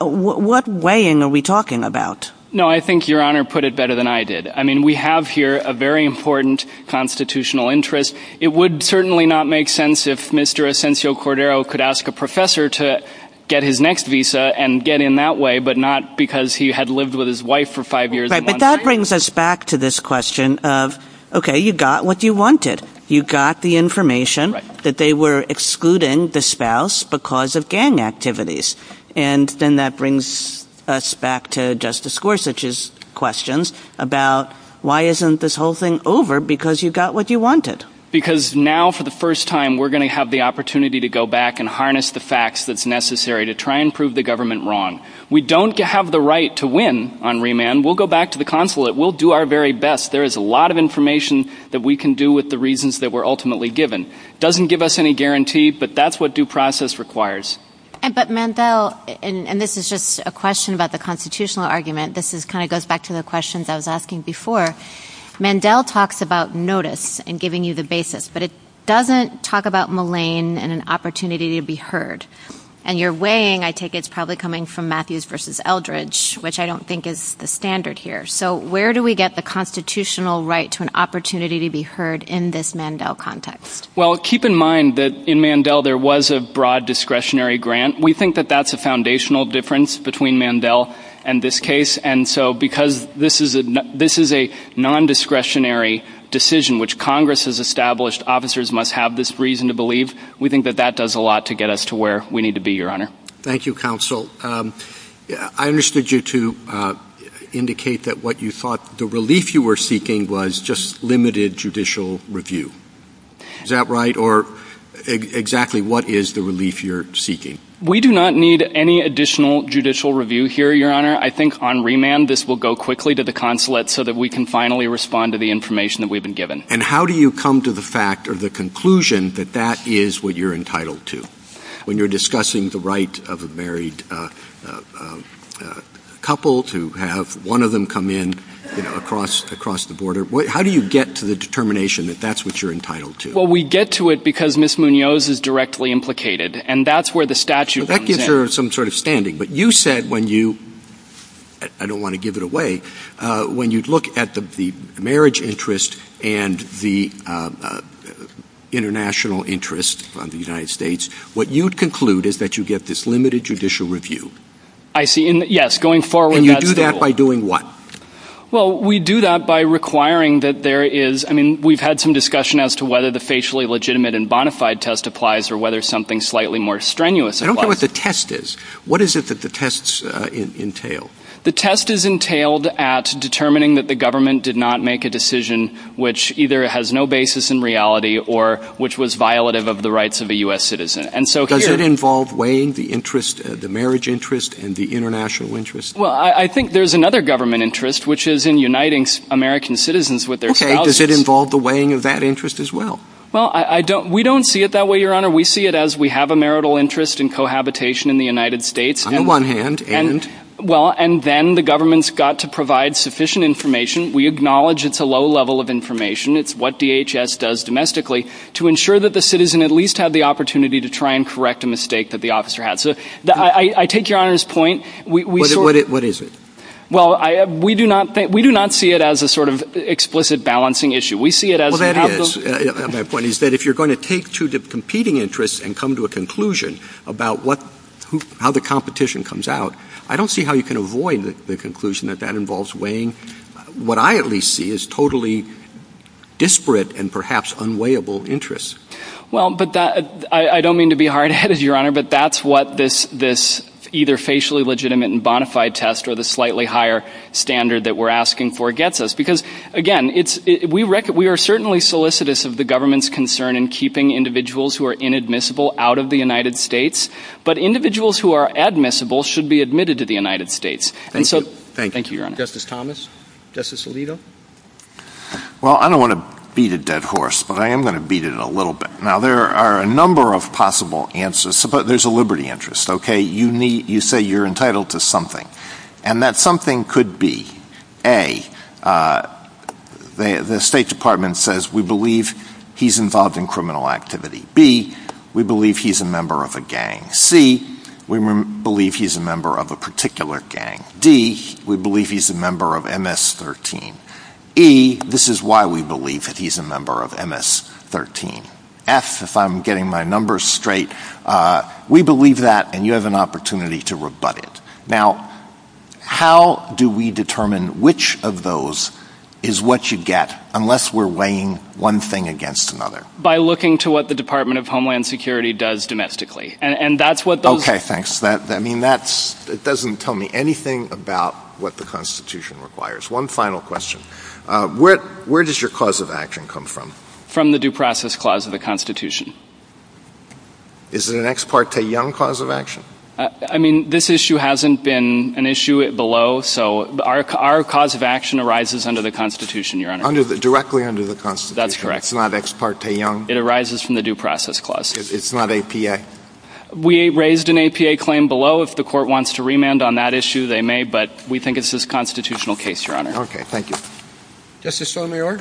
what weighing are we talking about? No, I think Your Honor put it better than I did. I mean, we have here a very important constitutional interest. It would certainly not make sense if Mr. Asensio Cordero could ask a professor to get his next visa and get in that way, but not because he had lived with his wife for five years. Right, but that brings us back to this question of, okay, you got what you wanted. You got the information that they were excluding the spouse because of gang activities. And then that brings us back to Justice Gorsuch's questions about why isn't this whole thing over because you got what you wanted. Because now for the first time we're going to have the opportunity to go back and harness the facts that's necessary to try and prove the government wrong. We don't have the right to win on remand. We'll go back to the consulate. We'll do our very best. There is a lot of information that we can do with the reasons that were ultimately given. It doesn't give us any guarantee, but that's what due process requires. But, Mandel, and this is just a question about the constitutional argument. This kind of goes back to the questions I was asking before. Mandel talks about notice and giving you the basis, but it doesn't talk about malign and an opportunity to be heard. And your weighing, I take it, is probably coming from Matthews versus Eldridge, which I don't think is the standard here. So where do we get the constitutional right to an opportunity to be heard in this Mandel context? Well, keep in mind that in Mandel there was a broad discretionary grant. We think that that's a foundational difference between Mandel and this case. And so because this is a nondiscretionary decision, which Congress has established officers must have this reason to believe, we think that that does a lot to get us to where we need to be, Your Honor. Thank you, Counsel. I understood you to indicate that what you thought the relief you were seeking was just limited judicial review. Is that right, or exactly what is the relief you're seeking? We do not need any additional judicial review here, Your Honor. I think on remand this will go quickly to the consulate so that we can finally respond to the information that we've been given. And how do you come to the fact or the conclusion that that is what you're entitled to? When you're discussing the right of a married couple to have one of them come in across the border, how do you get to the determination that that's what you're entitled to? Well, we get to it because Ms. Munoz is directly implicated, and that's where the statute comes in. So that gives her some sort of standing. But you said when you – I don't want to give it away – when you look at the marriage interest and the international interest of the United States, what you'd conclude is that you get this limited judicial review. I see. Yes, going forward. And you do that by doing what? Well, we do that by requiring that there is – I mean, we've had some discussion as to whether the facially legitimate and bona fide test applies or whether something slightly more strenuous applies. I don't know what the test is. What is it that the tests entail? The test is entailed at determining that the government did not make a decision which either has no basis in reality or which was violative of the rights of a U.S. citizen. Does it involve weighing the marriage interest and the international interest? Well, I think there's another government interest, which is in uniting American citizens with their spouses. Okay. Does it involve the weighing of that interest as well? Well, we don't see it that way, Your Honor. We see it as we have a marital interest and cohabitation in the United States. On the one hand, and? Well, and then the government's got to provide sufficient information. We acknowledge it's a low level of information. It's what DHS does domestically to ensure that the citizen at least had the opportunity to try and correct a mistake that the officer had. I take Your Honor's point. What is it? Well, we do not see it as a sort of explicit balancing issue. We see it as we have those. My point is that if you're going to take two competing interests and come to a conclusion about how the competition comes out, I don't see how you can avoid the conclusion that that involves weighing what I at least see as totally disparate and perhaps unweighable interests. Well, I don't mean to be hard-headed, Your Honor, but that's what this either facially legitimate and bona fide test or the slightly higher standard that we're asking for gets us. Because, again, we are certainly solicitous of the government's concern in keeping individuals who are inadmissible out of the United States, but individuals who are admissible should be admitted to the United States. Thank you. Thank you, Your Honor. Justice Thomas? Justice Alito? Well, I don't want to beat a dead horse, but I am going to beat it a little bit. Now, there are a number of possible answers, but there's a liberty interest. You say you're entitled to something, and that something could be, A, the State Department says we believe he's involved in criminal activity, B, we believe he's a member of a gang, C, we believe he's a member of a particular gang, D, we believe he's a member of MS-13, E, this is why we believe that he's a member of MS-13, F, if I'm getting my numbers straight, we believe that, and you have an opportunity to rebut it. Now, how do we determine which of those is what you get unless we're weighing one thing against another? By looking to what the Department of Homeland Security does domestically. Okay, thanks. I mean, that doesn't tell me anything about what the Constitution requires. One final question. Where does your cause of action come from? From the Due Process Clause of the Constitution. Is it an ex parte young cause of action? I mean, this issue hasn't been an issue below, so our cause of action arises under the Constitution, Your Honor. Directly under the Constitution. That's correct. It's not ex parte young? It arises from the Due Process Clause. It's not APA? We raised an APA claim below. If the Court wants to remand on that issue, they may, but we think it's a constitutional case, Your Honor. Okay, thank you. Justice Sotomayor?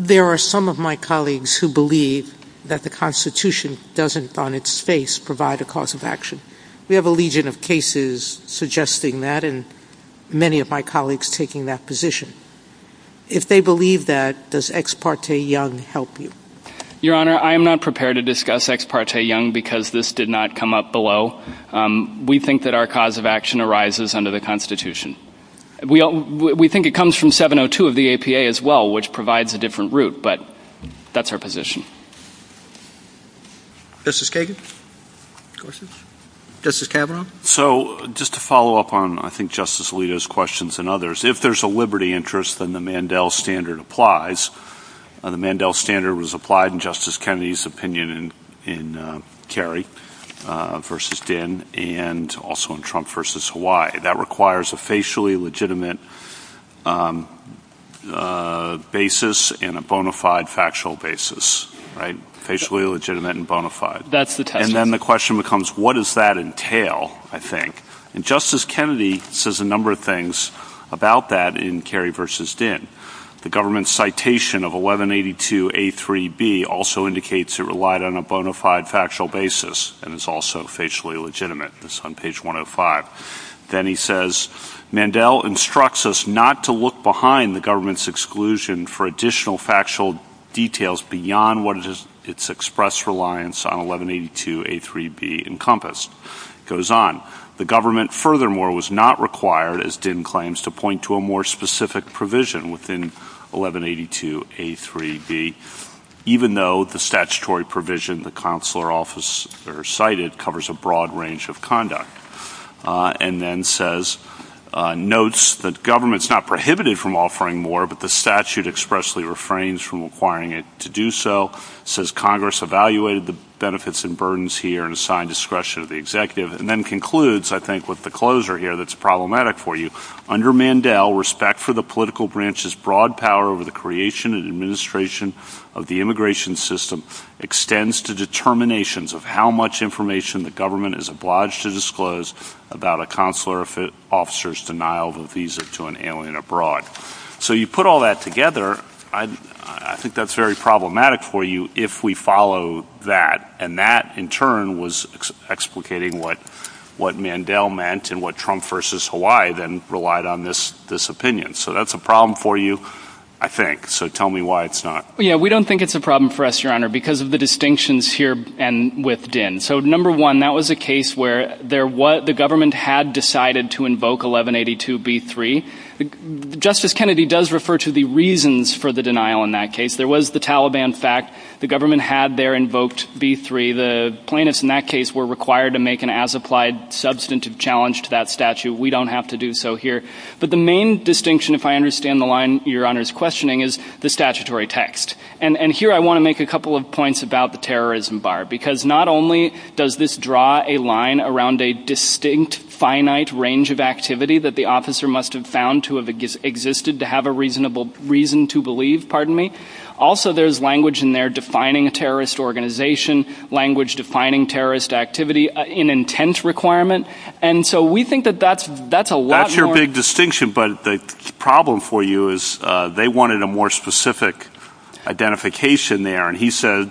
There are some of my colleagues who believe that the Constitution doesn't, on its face, provide a cause of action. We have a legion of cases suggesting that, and many of my colleagues taking that position. If they believe that, does ex parte young help you? Your Honor, I am not prepared to discuss ex parte young because this did not come up below. We think that our cause of action arises under the Constitution. We think it comes from 702 of the APA as well, which provides a different route, but that's our position. Justice Kagan? Questions? Justice Kavanaugh? So, just to follow up on, I think, Justice Alito's questions and others. If there's a liberty interest, then the Mandel standard applies. The Mandel standard was applied in Justice Kennedy's opinion in Kerry v. Ginn and also in Trump v. Hawaii. That requires a facially legitimate basis and a bona fide factual basis, right? Facially legitimate and bona fide. That's the question. And then the question becomes, what does that entail, I think? And Justice Kennedy says a number of things about that in Kerry v. Ginn. The government's citation of 1182A3B also indicates it relied on a bona fide factual basis and is also facially legitimate. It's on page 105. Then he says, Mandel instructs us not to look behind the government's exclusion for additional factual details beyond what its express reliance on 1182A3B encompassed. It goes on. The government furthermore was not required, as Ginn claims, to point to a more specific provision within 1182A3B, even though the statutory provision the consular office cited covers a broad range of conduct. And then says, notes that government's not prohibited from offering more, but the statute expressly refrains from requiring it to do so. Says Congress evaluated the benefits and burdens here and assigned discretion to the executive. And then concludes, I think, with the closer here that's problematic for you. Under Mandel, respect for the political branch's broad power over the creation and administration of the immigration system extends to determinations of how much information the government is obliged to disclose about a consular officer's denial of a visa to an alien abroad. So you put all that together, I think that's very problematic for you if we follow that. And that, in turn, was explicating what Mandel meant and what Trump v. Hawaii then relied on this opinion. So that's a problem for you, I think. So tell me why it's not. We don't think it's a problem for us, Your Honor, because of the distinctions here and with Ginn. So, number one, that was a case where the government had decided to invoke 1182B3. Justice Kennedy does refer to the reasons for the denial in that case. There was the Taliban fact. The government had there invoked B3. The plaintiffs in that case were required to make an as-applied substantive challenge to that statute. We don't have to do so here. But the main distinction, if I understand the line Your Honor is questioning, is the statutory text. And here I want to make a couple of points about the terrorism bar. Because not only does this draw a line around a distinct, finite range of activity that the officer must have found to have existed to have a reasonable reason to believe, pardon me. Also, there's language in there defining a terrorist organization, language defining terrorist activity, an intent requirement. And so we think that that's a lot more. That's your big distinction. But the problem for you is they wanted a more specific identification there. And he said,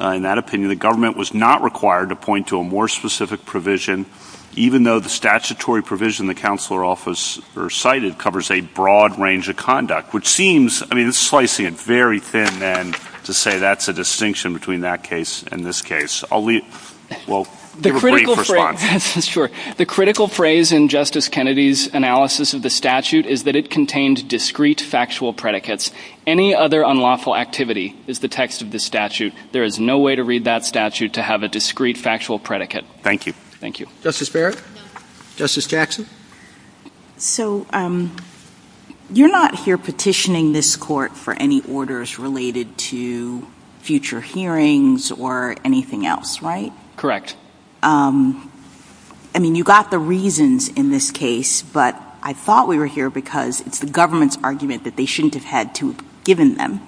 in that opinion, the government was not required to point to a more specific provision. Even though the statutory provision the counselor office recited covers a broad range of conduct. Which seems, I mean it's slicing it very thin then to say that's a distinction between that case and this case. I'll leave, well, give a brief response. The critical phrase in Justice Kennedy's analysis of the statute is that it contains discrete factual predicates. Any other unlawful activity is the text of this statute. There is no way to read that statute to have a discrete factual predicate. Thank you. Justice Barrett? Justice Jackson? So you're not here petitioning this court for any orders related to future hearings or anything else, right? Correct. I mean, you got the reasons in this case. But I thought we were here because it's the government's argument that they shouldn't have had to have given them,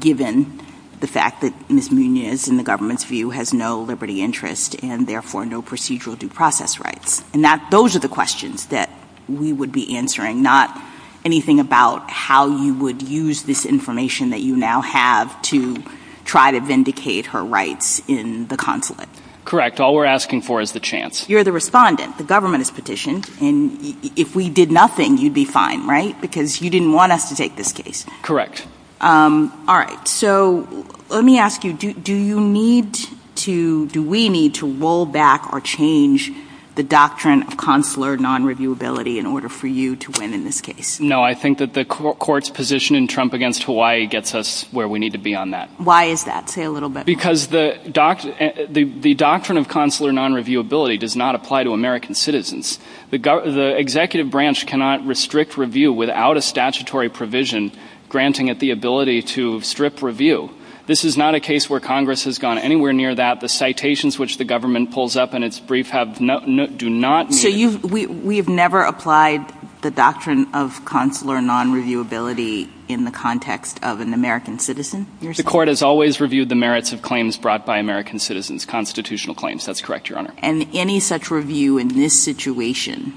given the fact that Ms. Munoz, in the government's view, has no liberty interest and therefore no procedural due process rights. And those are the questions that we would be answering, not anything about how you would use this information that you now have to try to vindicate her rights in the consulate. Correct. All we're asking for is the chance. You're the respondent. The government has petitioned. And if we did nothing, you'd be fine, right? Because you didn't want us to take this case. Correct. All right. So let me ask you, do we need to roll back or change the doctrine of consular non-reviewability in order for you to win in this case? No, I think that the court's position in Trump against Hawaii gets us where we need to be on that. Why is that? Say a little bit more. Because the doctrine of consular non-reviewability does not apply to American citizens. The executive branch cannot restrict review without a statutory provision granting it the ability to strip review. This is not a case where Congress has gone anywhere near that. The citations which the government pulls up in its brief have not, do not. So we have never applied the doctrine of consular non-reviewability in the context of an American citizen? The court has always reviewed the merits of claims brought by American citizens, constitutional claims. That's correct, Your Honor. And any such review in this situation.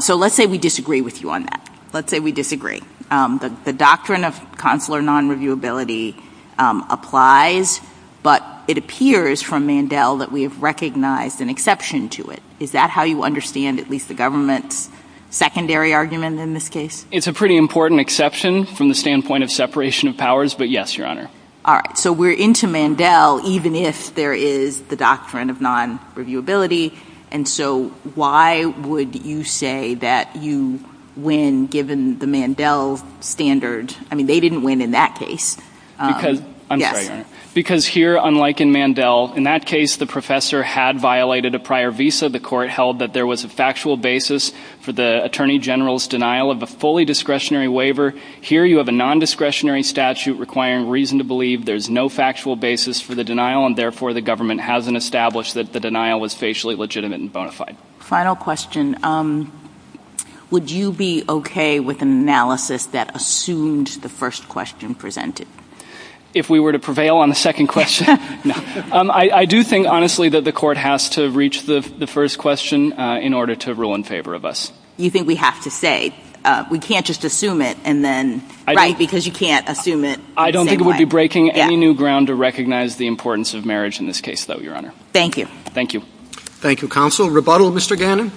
So let's say we disagree with you on that. Let's say we disagree. The doctrine of consular non-reviewability applies, but it appears from Mandel that we have recognized an exception to it. Is that how you understand at least the government's secondary argument in this case? It's a pretty important exception from the standpoint of separation of powers, but yes, Your Honor. All right. So we're into Mandel, even if there is the doctrine of non-reviewability. And so why would you say that you win given the Mandel standard? I mean, they didn't win in that case. I'm sorry, Your Honor. Because here, unlike in Mandel, in that case the professor had violated a prior visa. The court held that there was a factual basis for the attorney general's denial of a fully discretionary waiver. Here you have a non-discretionary statute requiring reason to believe there's no factual basis for the denial, and therefore the government hasn't established that the denial was facially legitimate and bona fide. Final question. Would you be okay with an analysis that assumed the first question presented? If we were to prevail on the second question? No. I do think, honestly, that the court has to reach the first question in order to rule in favor of us. You think we have to say. We can't just assume it and then write because you can't assume it. I don't think it would be breaking any new ground to recognize the importance of marriage in this case, though, Your Honor. Thank you. Thank you. Thank you, counsel. Rebuttal, Mr. Gannon.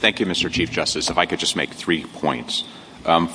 Thank you, Mr. Chief Justice. If I could just make three points.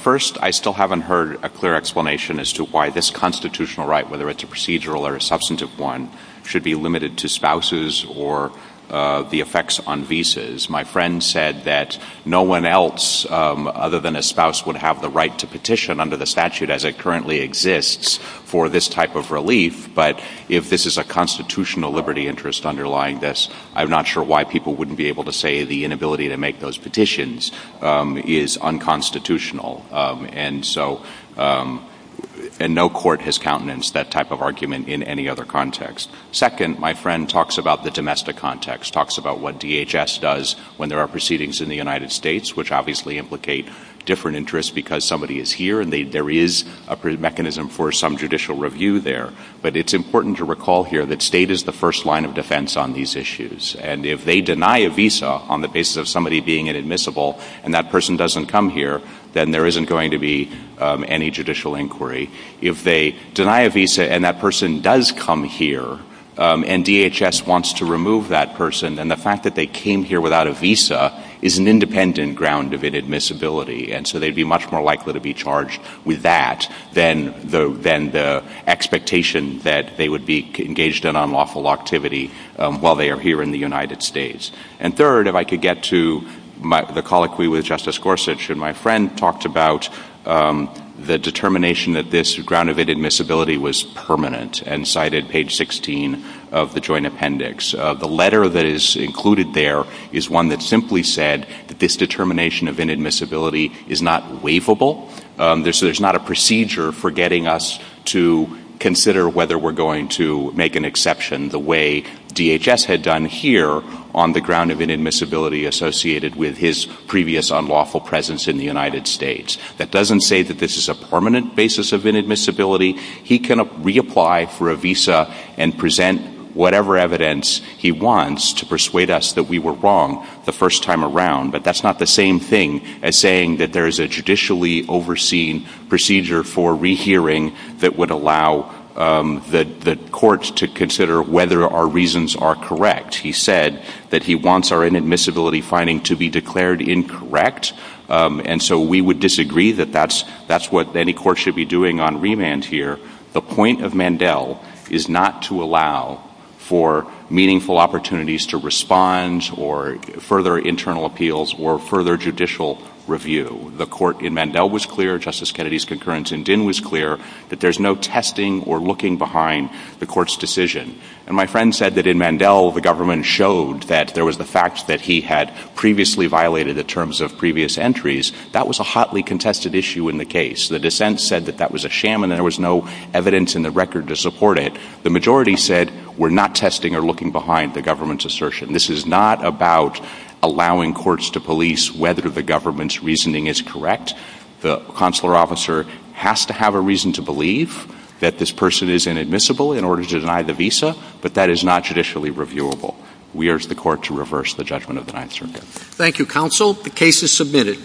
First, I still haven't heard a clear explanation as to why this constitutional right, whether it's a procedural or a substantive one, should be limited to spouses or the effects on visas. My friend said that no one else other than a spouse would have the right to petition under the statute as it currently exists for this type of relief. But if this is a constitutional liberty interest underlying this, I'm not sure why people wouldn't be able to say the inability to make those petitions is unconstitutional. And so no court has countenanced that type of argument in any other context. Second, my friend talks about the domestic context, talks about what DHS does when there are proceedings in the United States, which obviously implicate different interests because somebody is here and there is a mechanism for some judicial review there. But it's important to recall here that state is the first line of defense on these issues. And if they deny a visa on the basis of somebody being inadmissible and that person doesn't come here, then there isn't going to be any judicial inquiry. If they deny a visa and that person does come here and DHS wants to remove that person, then the fact that they came here without a visa is an independent ground of inadmissibility. And so they'd be much more likely to be charged with that than the expectation that they would be engaged in unlawful activity while they are here in the United States. And third, if I could get to the colloquy with Justice Gorsuch, my friend talked about the determination that this ground of inadmissibility was permanent and cited page 16 of the Joint Appendix. The letter that is included there is one that simply said that this determination of inadmissibility is not waivable. There's not a procedure for getting us to consider whether we're going to make an exception the way DHS had done here on the ground of inadmissibility associated with his previous unlawful presence in the United States. That doesn't say that this is a permanent basis of inadmissibility. He can reapply for a visa and present whatever evidence he wants to persuade us that we were wrong the first time around, but that's not the same thing as saying that there is a judicially overseen procedure for rehearing that would allow the court to consider whether our reasons are correct. He said that he wants our inadmissibility finding to be declared incorrect, and so we would disagree that that's what any court should be doing on remand here. The point of Mandel is not to allow for meaningful opportunities to respond or further internal appeals or further judicial review. The court in Mandel was clear, Justice Kennedy's concurrence in Dinh was clear, that there's no testing or looking behind the court's decision. And my friend said that in Mandel the government showed that there was the fact that he had previously violated the terms of previous entries. That was a hotly contested issue in the case. The dissent said that that was a sham, and there was no evidence in the record to support it. The majority said we're not testing or looking behind the government's assertion. This is not about allowing courts to police whether the government's reasoning is correct. The consular officer has to have a reason to believe that this person is inadmissible in order to deny the visa, but that is not judicially reviewable. We urge the court to reverse the judgment of the Ninth Circuit. Thank you, Counsel. The case is submitted.